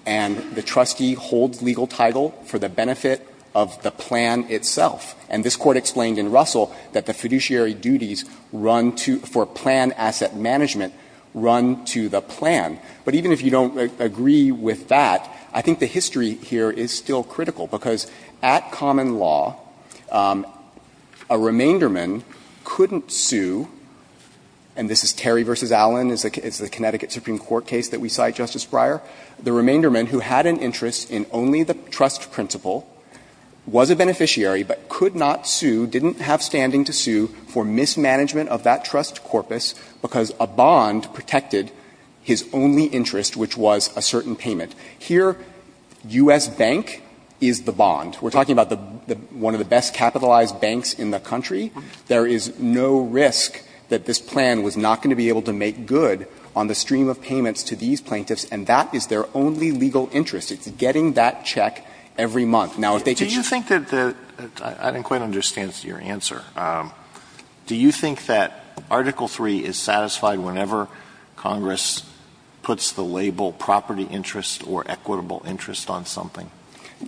and the trustee holds legal title for the benefit of the plan itself. And this Court explained in Russell that the fiduciary duties run to – for plan asset management run to the plan. But even if you don't agree with that, I think the history here is still critical because at common law, a remainderman couldn't sue – and this is Terry v. Allen. It's the Connecticut Supreme Court case that we cite, Justice Breyer. The remainderman who had an interest in only the trust principle was a beneficiary, but could not sue, didn't have standing to sue for mismanagement of that trust corpus because a bond protected his only interest, which was a certain payment. Here, U.S. Bank is the bond. We're talking about one of the best capitalized banks in the country. There is no risk that this plan was not going to be able to make good on the stream of payments to these plaintiffs, and that is their only legal interest. It's getting that check every month. Now, if they could just – Alitoson Do you think that the – I didn't quite understand your answer. Do you think that Article III is satisfied whenever Congress puts the label property interest or equitable interest on something?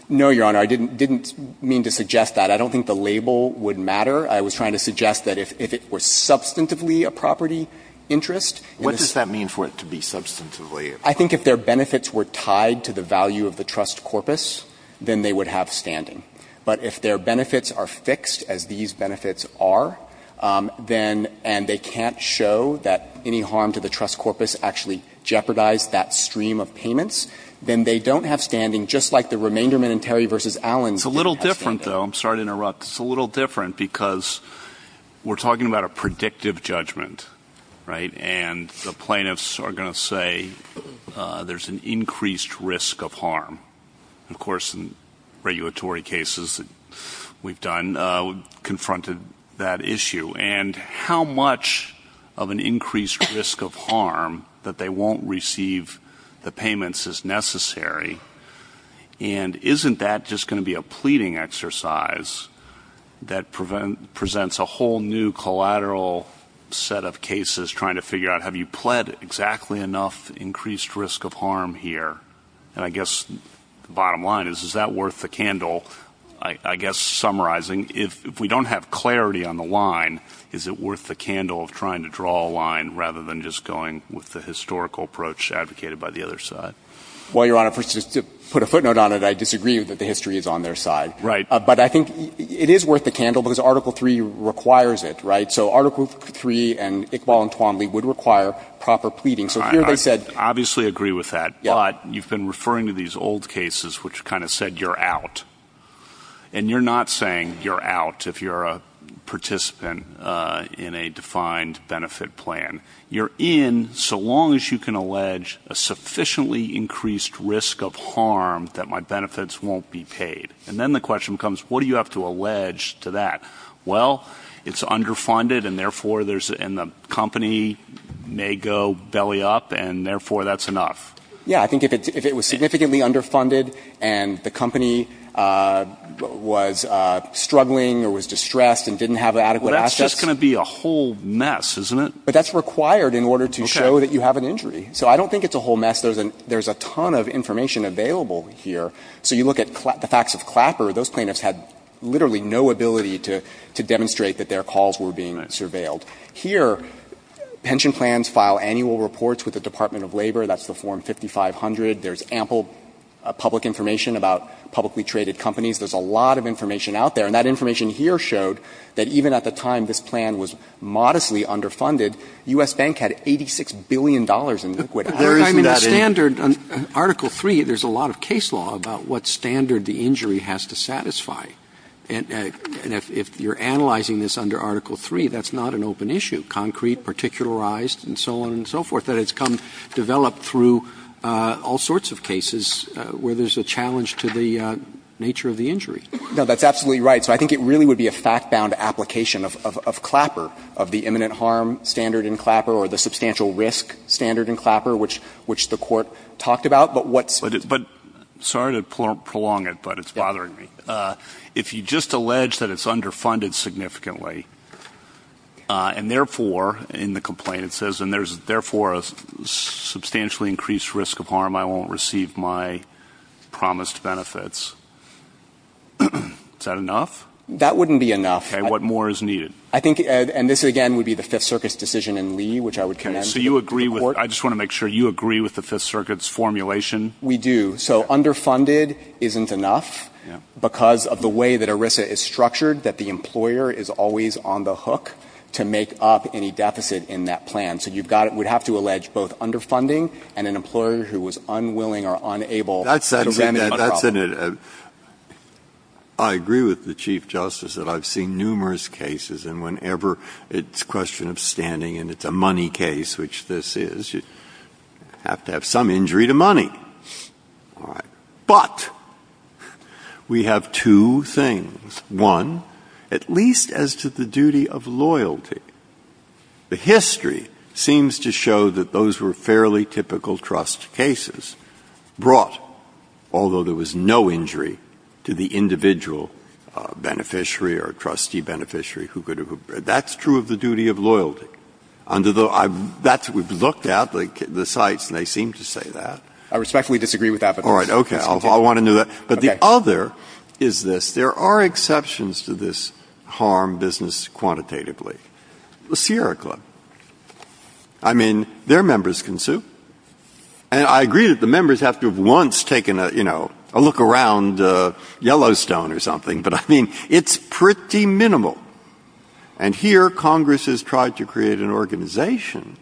No, Your Honor. I didn't mean to suggest that. I don't think the label would matter. I was trying to suggest that if it were substantively a property interest – What does that mean for it to be substantively? I think if their benefits were tied to the value of the trust corpus, then they would have standing. But if their benefits are fixed, as these benefits are, then – and they can't show that any harm to the trust corpus actually jeopardized that stream of payments, then they don't have standing, just like the remaindermen in Terry v. Allens. It's a little different, though. I'm sorry to interrupt. It's a little different because we're talking about a predictive judgment, right? And the plaintiffs are going to say there's an increased risk of harm. Of course, in regulatory cases that we've done, we've confronted that issue. And how much of an increased risk of harm that they won't receive the payments is necessary? And isn't that just going to be a pleading exercise that presents a whole new collateral set of cases, trying to figure out have you pled exactly enough increased risk of harm here? And I guess the bottom line is, is that worth the candle? I guess summarizing, if we don't have clarity on the line, is it worth the candle of trying to draw a line rather than just going with the historical approach advocated by the other side? Well, Your Honor, to put a footnote on it, I disagree that the history is on their side. Right. But I think it is worth the candle because Article III requires it, right? So Article III and Iqbal and Twanley would require proper pleading. So here they said – I obviously agree with that, but you've been referring to these old cases which kind of said you're out. And you're not saying you're out if you're a participant in a defined benefit plan. You're in so long as you can allege a sufficiently increased risk of harm that my benefits won't be paid. And then the question becomes, what do you have to allege to that? Well, it's underfunded, and therefore there's – and the company may go belly up, and therefore that's enough. Yeah. I think if it was significantly underfunded and the company was struggling or was distressed and didn't have adequate assets – Well, that's just going to be a whole mess, isn't it? But that's required in order to show that you have an injury. So I don't think it's a whole mess. There's a ton of information available here. So you look at the facts of Clapper, those plaintiffs had literally no ability to demonstrate that their calls were being surveilled. Here, pension plans file annual reports with the Department of Labor. That's the Form 5500. There's ample public information about publicly traded companies. There's a lot of information out there. And that information here showed that even at the time this plan was modestly Well, I mean, the standard – Article 3, there's a lot of case law about what standard the injury has to satisfy. And if you're analyzing this under Article 3, that's not an open issue. Concrete, particularized, and so on and so forth. That has come – developed through all sorts of cases where there's a challenge to the nature of the injury. No, that's absolutely right. So I think it really would be a fact-bound application of Clapper, of the imminent harm standard in Clapper, or the substantial risk standard in Clapper, which the Court talked about. But what's – But – sorry to prolong it, but it's bothering me. If you just allege that it's underfunded significantly, and therefore, in the complaint it says, and there's therefore a substantially increased risk of harm, I won't receive my promised benefits, is that enough? That wouldn't be enough. Okay. What more is needed? I think – and this, again, would be the Fifth Circuit's decision in Lee, which I would commend to the Court. Okay. So you agree with – I just want to make sure you agree with the Fifth Circuit's formulation. We do. So underfunded isn't enough because of the way that ERISA is structured, that the employer is always on the hook to make up any deficit in that plan. So you've got – we'd have to allege both underfunding and an employer who was unwilling or unable to examine the problem. Well, Senator, I agree with the Chief Justice that I've seen numerous cases, and whenever it's a question of standing and it's a money case, which this is, you have to have some injury to money. All right. But we have two things. One, at least as to the duty of loyalty, the history seems to show that those were no injury to the individual beneficiary or trustee beneficiary who could have – that's true of the duty of loyalty. Under the – that's what we've looked at, the sites, and they seem to say that. I respectfully disagree with that. All right. Okay. I want to know that. But the other is this. There are exceptions to this harm business quantitatively. The Sierra Club. I mean, their members can sue. And I agree that the members have to have once taken a, you know, a look around Yellowstone or something, but I mean, it's pretty minimal. And here Congress has tried to create an organization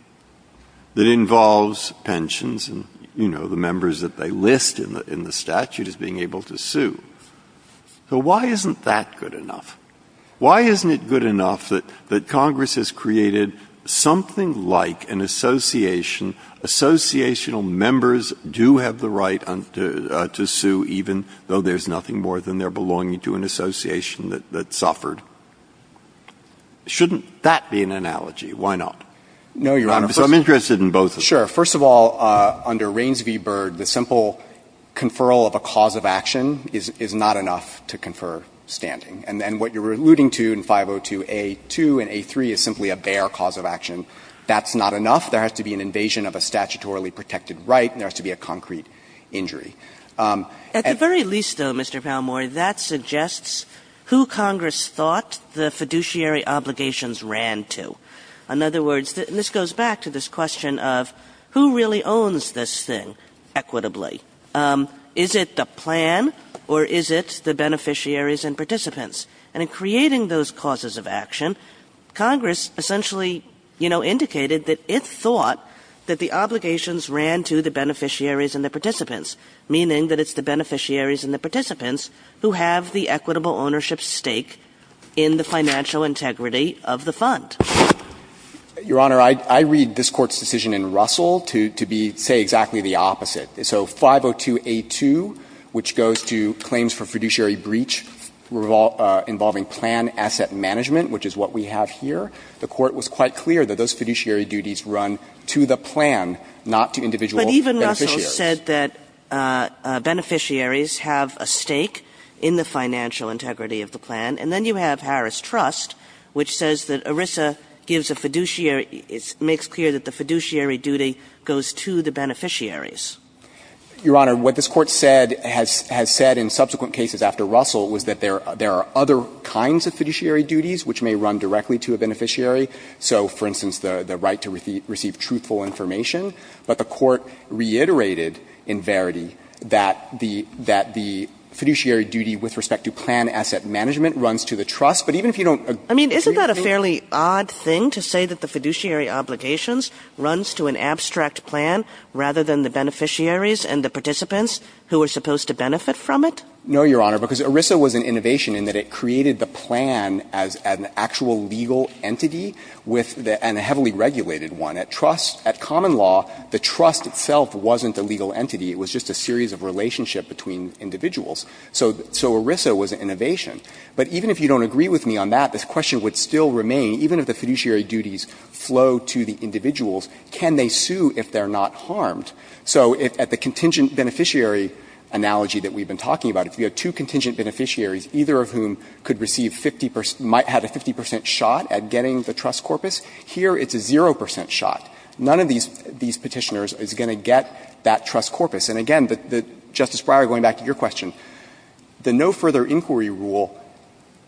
that involves pensions and, you know, the members that they list in the statute as being able to sue. So why isn't that good enough? Why isn't it good enough that Congress has created something like an association, associational members do have the right to sue even though there's nothing more than their belonging to an association that suffered? Shouldn't that be an analogy? Why not? No, Your Honor. So I'm interested in both of them. Sure. First of all, under Rains v. Byrd, the simple conferral of a cause of action is not enough to confer standing. And what you're alluding to in 502a-2 and a-3 is simply a bare cause of action. That's not enough. There has to be an invasion of a statutorily protected right and there has to be a concrete injury. At the very least, though, Mr. Palmore, that suggests who Congress thought the fiduciary obligations ran to. In other words, this goes back to this question of who really owns this thing equitably? Is it the plan or is it the beneficiaries and participants? And in creating those causes of action, Congress essentially, you know, indicated that it thought that the obligations ran to the beneficiaries and the participants, meaning that it's the beneficiaries and the participants who have the equitable ownership stake in the financial integrity of the fund. Your Honor, I read this Court's decision in Russell to be say exactly the opposite. So 502a-2, which goes to claims for fiduciary breach involving plan asset management, which is what we have here, the Court was quite clear that those fiduciary duties run to the plan, not to individual beneficiaries. But even Russell said that beneficiaries have a stake in the financial integrity of the plan, and then you have Harris Trust, which says that ERISA gives a fiduciary It makes clear that the fiduciary duty goes to the beneficiaries. Your Honor, what this Court said has said in subsequent cases after Russell was that there are other kinds of fiduciary duties which may run directly to a beneficiary. So, for instance, the right to receive truthful information. But the Court reiterated, in verity, that the fiduciary duty with respect to plan asset management runs to the trust. But even if you don't agree with me on that, the fiduciary duty runs to the trust. And the fiduciary obligations runs to an abstract plan rather than the beneficiaries and the participants who are supposed to benefit from it? No, Your Honor, because ERISA was an innovation in that it created the plan as an actual legal entity with the – and a heavily regulated one. At trust – at common law, the trust itself wasn't a legal entity. It was just a series of relationship between individuals. So ERISA was an innovation. But even if you don't agree with me on that, the question would still remain, even if the fiduciary duties flow to the individuals, can they sue if they're not harmed? So if at the contingent beneficiary analogy that we've been talking about, if we have two contingent beneficiaries, either of whom could receive 50 – might have a 50 percent shot at getting the trust corpus, here it's a 0 percent shot. None of these – these Petitioners is going to get that trust corpus. And again, the – Justice Breyer, going back to your question, the no-further inquiry rule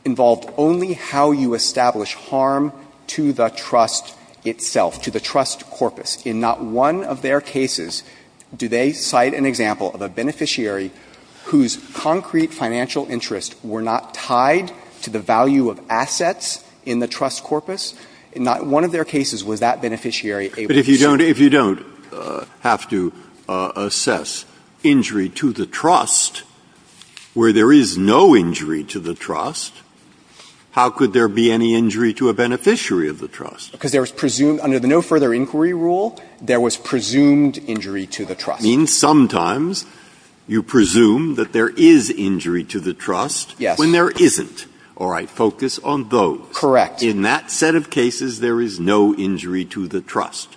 involved only how you establish harm to the trust itself, to the trust corpus. In not one of their cases do they cite an example of a beneficiary whose concrete financial interests were not tied to the value of assets in the trust corpus? In not one of their cases was that beneficiary able to sue. Breyer, if you don't have to assess injury to the trust, where there is no injury to the trust, how could there be any injury to a beneficiary of the trust? Because there was presumed – under the no-further inquiry rule, there was presumed injury to the trust. It means sometimes you presume that there is injury to the trust when there isn't. Yes. All right. Focus on those. Correct. In that set of cases, there is no injury to the trust,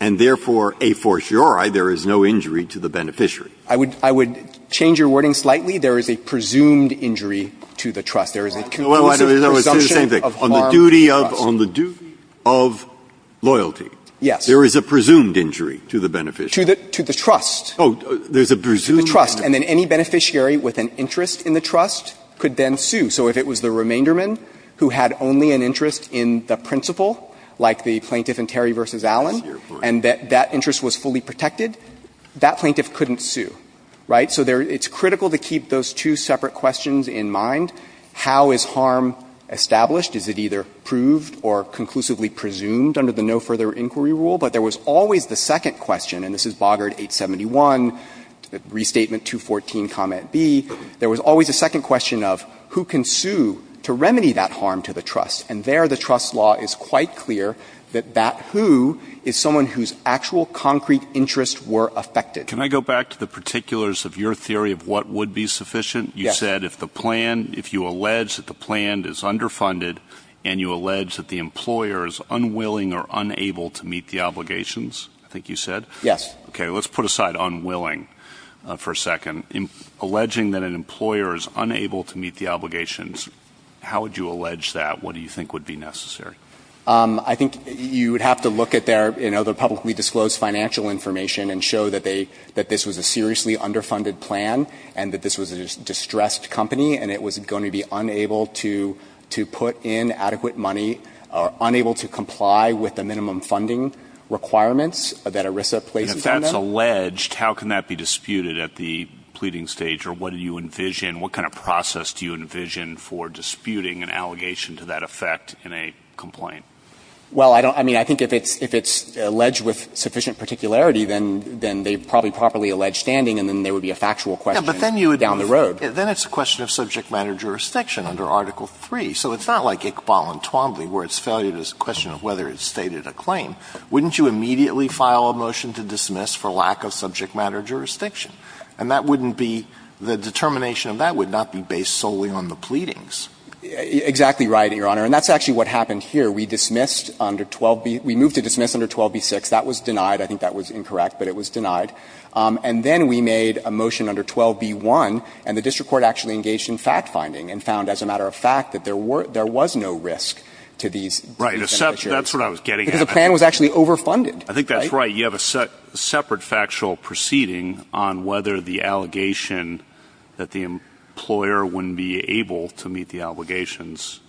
and therefore, a fortiori, there is no injury to the beneficiary. I would – I would change your wording slightly. There is a presumed injury to the trust. There is a presumption of harm to the trust. On the duty of – on the duty of loyalty. Yes. There is a presumed injury to the beneficiary. To the – to the trust. Oh, there's a presumed injury. To the trust. And then any beneficiary with an interest in the trust could then sue. So if it was the remainderman who had only an interest in the principal, like the plaintiff in Terry v. Allen, and that that interest was fully protected, that plaintiff couldn't sue, right? So there – it's critical to keep those two separate questions in mind. How is harm established? Is it either proved or conclusively presumed under the no-further inquiry rule? But there was always the second question, and this is Boggart 871, Restatement 214, Comment B. There was always a second question of who can sue to remedy that harm to the trust. And there the trust law is quite clear that that who is someone whose actual concrete interests were affected. Can I go back to the particulars of your theory of what would be sufficient? Yes. You said if the plan – if you allege that the plan is underfunded and you allege that the employer is unwilling or unable to meet the obligations, I think you said? Yes. Okay. Let's put aside unwilling for a second. Alleging that an employer is unable to meet the obligations, how would you allege that? What do you think would be necessary? I think you would have to look at their – you know, their publicly disclosed financial information and show that they – that this was a seriously underfunded plan and that this was a distressed company and it was going to be unable to put in adequate money or unable to comply with the minimum funding requirements that ERISA places on them. If it's alleged, how can that be disputed at the pleading stage or what do you envision – what kind of process do you envision for disputing an allegation to that effect in a complaint? Well, I don't – I mean, I think if it's – if it's alleged with sufficient particularity, then they probably properly allege standing and then there would be a factual question down the road. Yeah, but then you would – then it's a question of subject matter jurisdiction under Article III. So it's not like Iqbal and Twombly where it's valued as a question of whether it's stated a claim. Wouldn't you immediately file a motion to dismiss for lack of subject matter jurisdiction? And that wouldn't be – the determination of that would not be based solely on the pleadings. Exactly right, Your Honor. And that's actually what happened here. We dismissed under 12b – we moved to dismiss under 12b-6. That was denied. I think that was incorrect, but it was denied. And then we made a motion under 12b-1 and the district court actually engaged in fact-finding and found as a matter of fact that there were – there was no risk to these beneficiaries. Right. That's what I was getting at. Because the plan was actually overfunded. I think that's right. You have a separate factual proceeding on whether the allegation that the employer wouldn't be able to meet the obligations.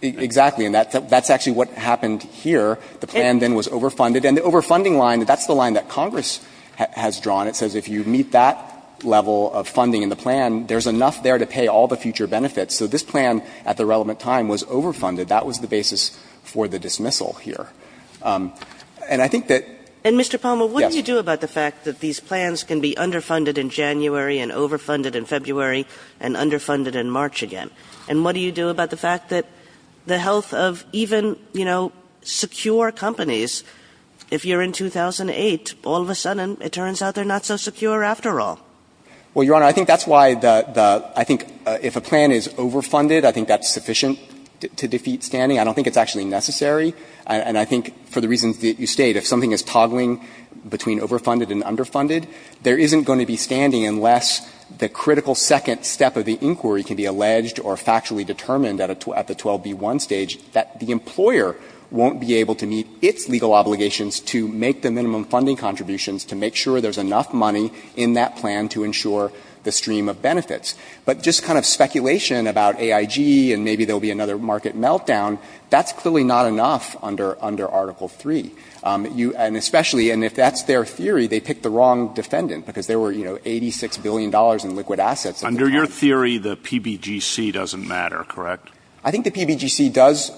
Exactly. And that's actually what happened here. The plan then was overfunded. And the overfunding line, that's the line that Congress has drawn. It says if you meet that level of funding in the plan, there's enough there to pay all the future benefits. So this plan at the relevant time was overfunded. That was the basis for the dismissal here. And I think that, yes. And, Mr. Palmer, what do you do about the fact that these plans can be underfunded in January and overfunded in February and underfunded in March again? And what do you do about the fact that the health of even, you know, secure companies, if you're in 2008, all of a sudden it turns out they're not so secure after all? Well, Your Honor, I think that's why the – I think if a plan is overfunded, I think that's sufficient to defeat standing. I don't think it's actually necessary. And I think for the reasons that you state, if something is toggling between overfunded and underfunded, there isn't going to be standing unless the critical second step of the inquiry can be alleged or factually determined at the 12B1 stage that the employer won't be able to meet its legal obligations to make the minimum funding contributions to make sure there's enough money in that plan to ensure the stream of benefits. But just kind of speculation about AIG and maybe there'll be another market meltdown, that's clearly not enough under Article 3. And especially – and if that's their theory, they picked the wrong defendant because there were, you know, $86 billion in liquid assets. Under your theory, the PBGC doesn't matter, correct? I think the PBGC does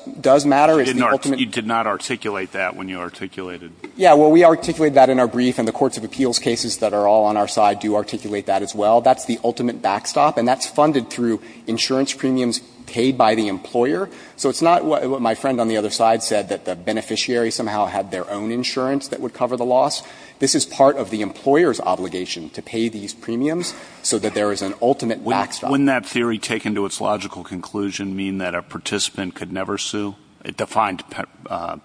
matter. You did not articulate that when you articulated it. Yeah, well, we articulated that in our brief and the courts of appeals cases that are all on our side do articulate that as well. That's the ultimate backstop and that's funded through insurance premiums paid by the employer. So it's not what my friend on the other side said, that the beneficiary somehow had their own insurance that would cover the loss. This is part of the employer's obligation to pay these premiums so that there is an ultimate backstop. Wouldn't that theory taken to its logical conclusion mean that a participant could never sue? It defined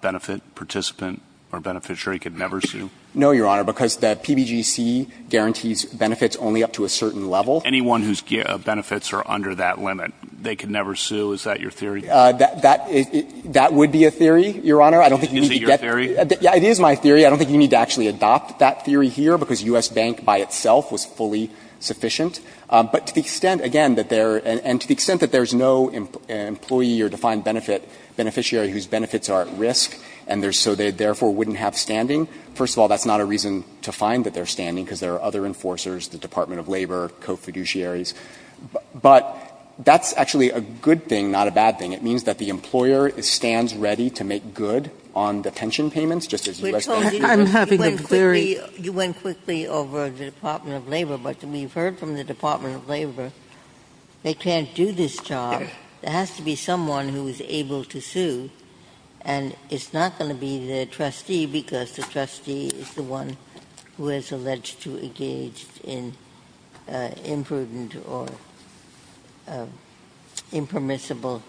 benefit, participant or beneficiary could never sue? No, Your Honor, because the PBGC guarantees benefits only up to a certain level. Anyone whose benefits are under that limit, they could never sue? Is that your theory? That would be a theory, Your Honor. Is it your theory? Yeah, it is my theory. I don't think you need to actually adopt that theory here, because U.S. Bank by itself was fully sufficient. But to the extent, again, that there – and to the extent that there is no employee or defined benefit, beneficiary whose benefits are at risk, and so they therefore wouldn't have standing, first of all, that's not a reason to find that they're standing because there are other enforcers, the Department of Labor, co-fiduciaries. But that's actually a good thing, not a bad thing. It means that the employer stands ready to make good on the pension payments, just as U.S. Bank does. I'm having a very – You went quickly over to the Department of Labor, but we've heard from the Department of Labor, they can't do this job. There has to be someone who is able to sue. And it's not going to be the trustee, because the trustee is the one who is alleged to engage in imprudent or impermissible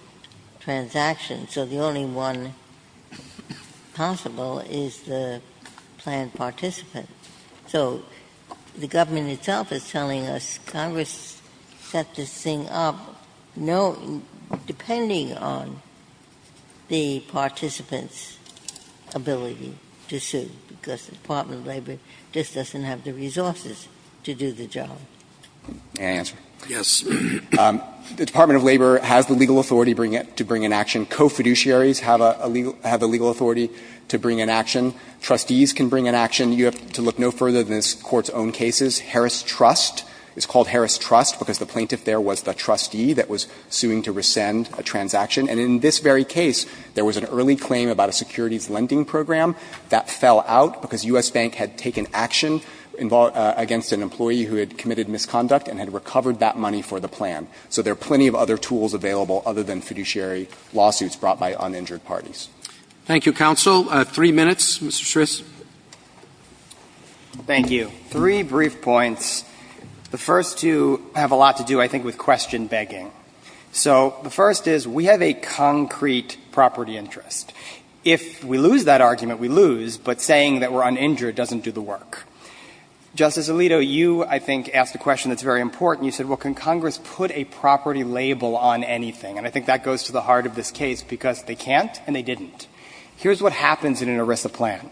transactions. So the only one possible is the planned participant. So the government itself is telling us, Congress set this thing up, depending on the participant's ability to sue, because the Department of Labor just doesn't have the resources to do the job. May I answer? Yes. The Department of Labor has the legal authority to bring in action. Co-fiduciaries have a legal authority to bring in action. Trustees can bring in action. You have to look no further than this Court's own cases. Harris Trust is called Harris Trust because the plaintiff there was the trustee that was suing to rescind a transaction. And in this very case, there was an early claim about a securities lending program that fell out because U.S. Bank had taken action against an employee who had committed misconduct and had recovered that money for the plan. So there are plenty of other tools available other than fiduciary lawsuits brought by uninjured parties. Thank you, counsel. Three minutes, Mr. Schrist. Thank you. Three brief points. The first two have a lot to do, I think, with question begging. So the first is we have a concrete property interest. If we lose that argument, we lose, but saying that we're uninjured doesn't do the work. Justice Alito, you, I think, asked a question that's very important. You said, well, can Congress put a property label on anything? And I think that goes to the heart of this case because they can't and they didn't. Here's what happens in an ERISA plan.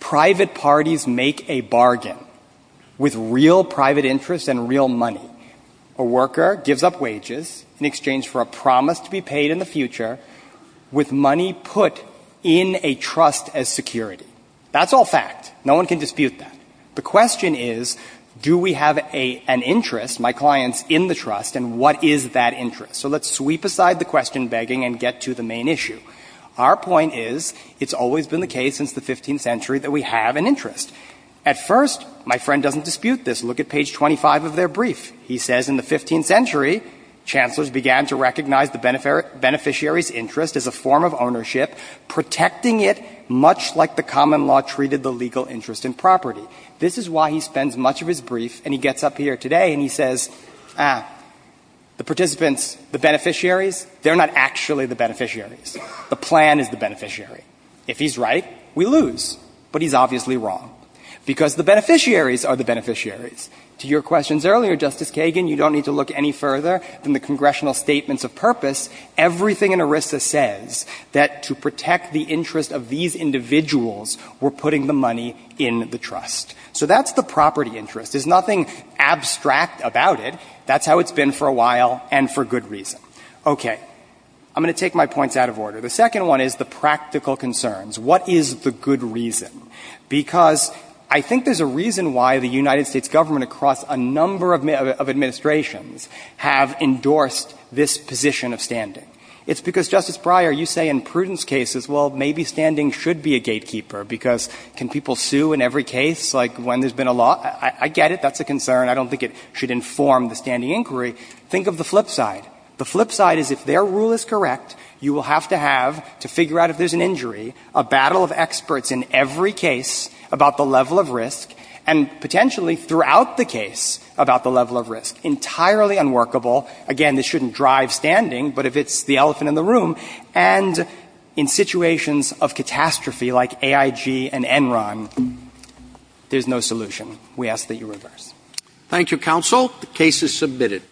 Private parties make a bargain with real private interest and real money. A worker gives up wages in exchange for a promise to be paid in the future with money put in a trust as security. That's all fact. No one can dispute that. The question is, do we have an interest, my clients, in the trust, and what is that interest? So let's sweep aside the question begging and get to the main issue. Our point is it's always been the case since the 15th century that we have an interest. At first, my friend doesn't dispute this. Look at page 25 of their brief. He says, in the 15th century, chancellors began to recognize the beneficiary's interest as a form of ownership, protecting it much like the common law treated the legal interest in property. This is why he spends much of his brief and he gets up here today and he says, ah, the participants, the beneficiaries, they're not actually the beneficiaries. The plan is the beneficiary. If he's right, we lose. But he's obviously wrong because the beneficiaries are the beneficiaries. To your questions earlier, Justice Kagan, you don't need to look any further than the congressional statements of purpose. Everything in ERISA says that to protect the interest of these individuals, we're putting the money in the trust. So that's the property interest. There's nothing abstract about it. That's how it's been for a while and for good reason. Okay. I'm going to take my points out of order. The second one is the practical concerns. What is the good reason? Because I think there's a reason why the United States government across a number of administrations have endorsed this position of standing. It's because, Justice Breyer, you say in prudence cases, well, maybe standing should be a gatekeeper because can people sue in every case like when there's been a law? I get it. That's a concern. I don't think it should inform the standing inquiry. Think of the flip side. The flip side is if their rule is correct, you will have to have to figure out if there's an injury, a battle of experts in every case about the level of risk, and potentially throughout the case about the level of risk. Entirely unworkable. Again, this shouldn't drive standing, but if it's the elephant in the room. And in situations of catastrophe like AIG and Enron, there's no solution. We ask that you reverse. Thank you, counsel. The case is submitted.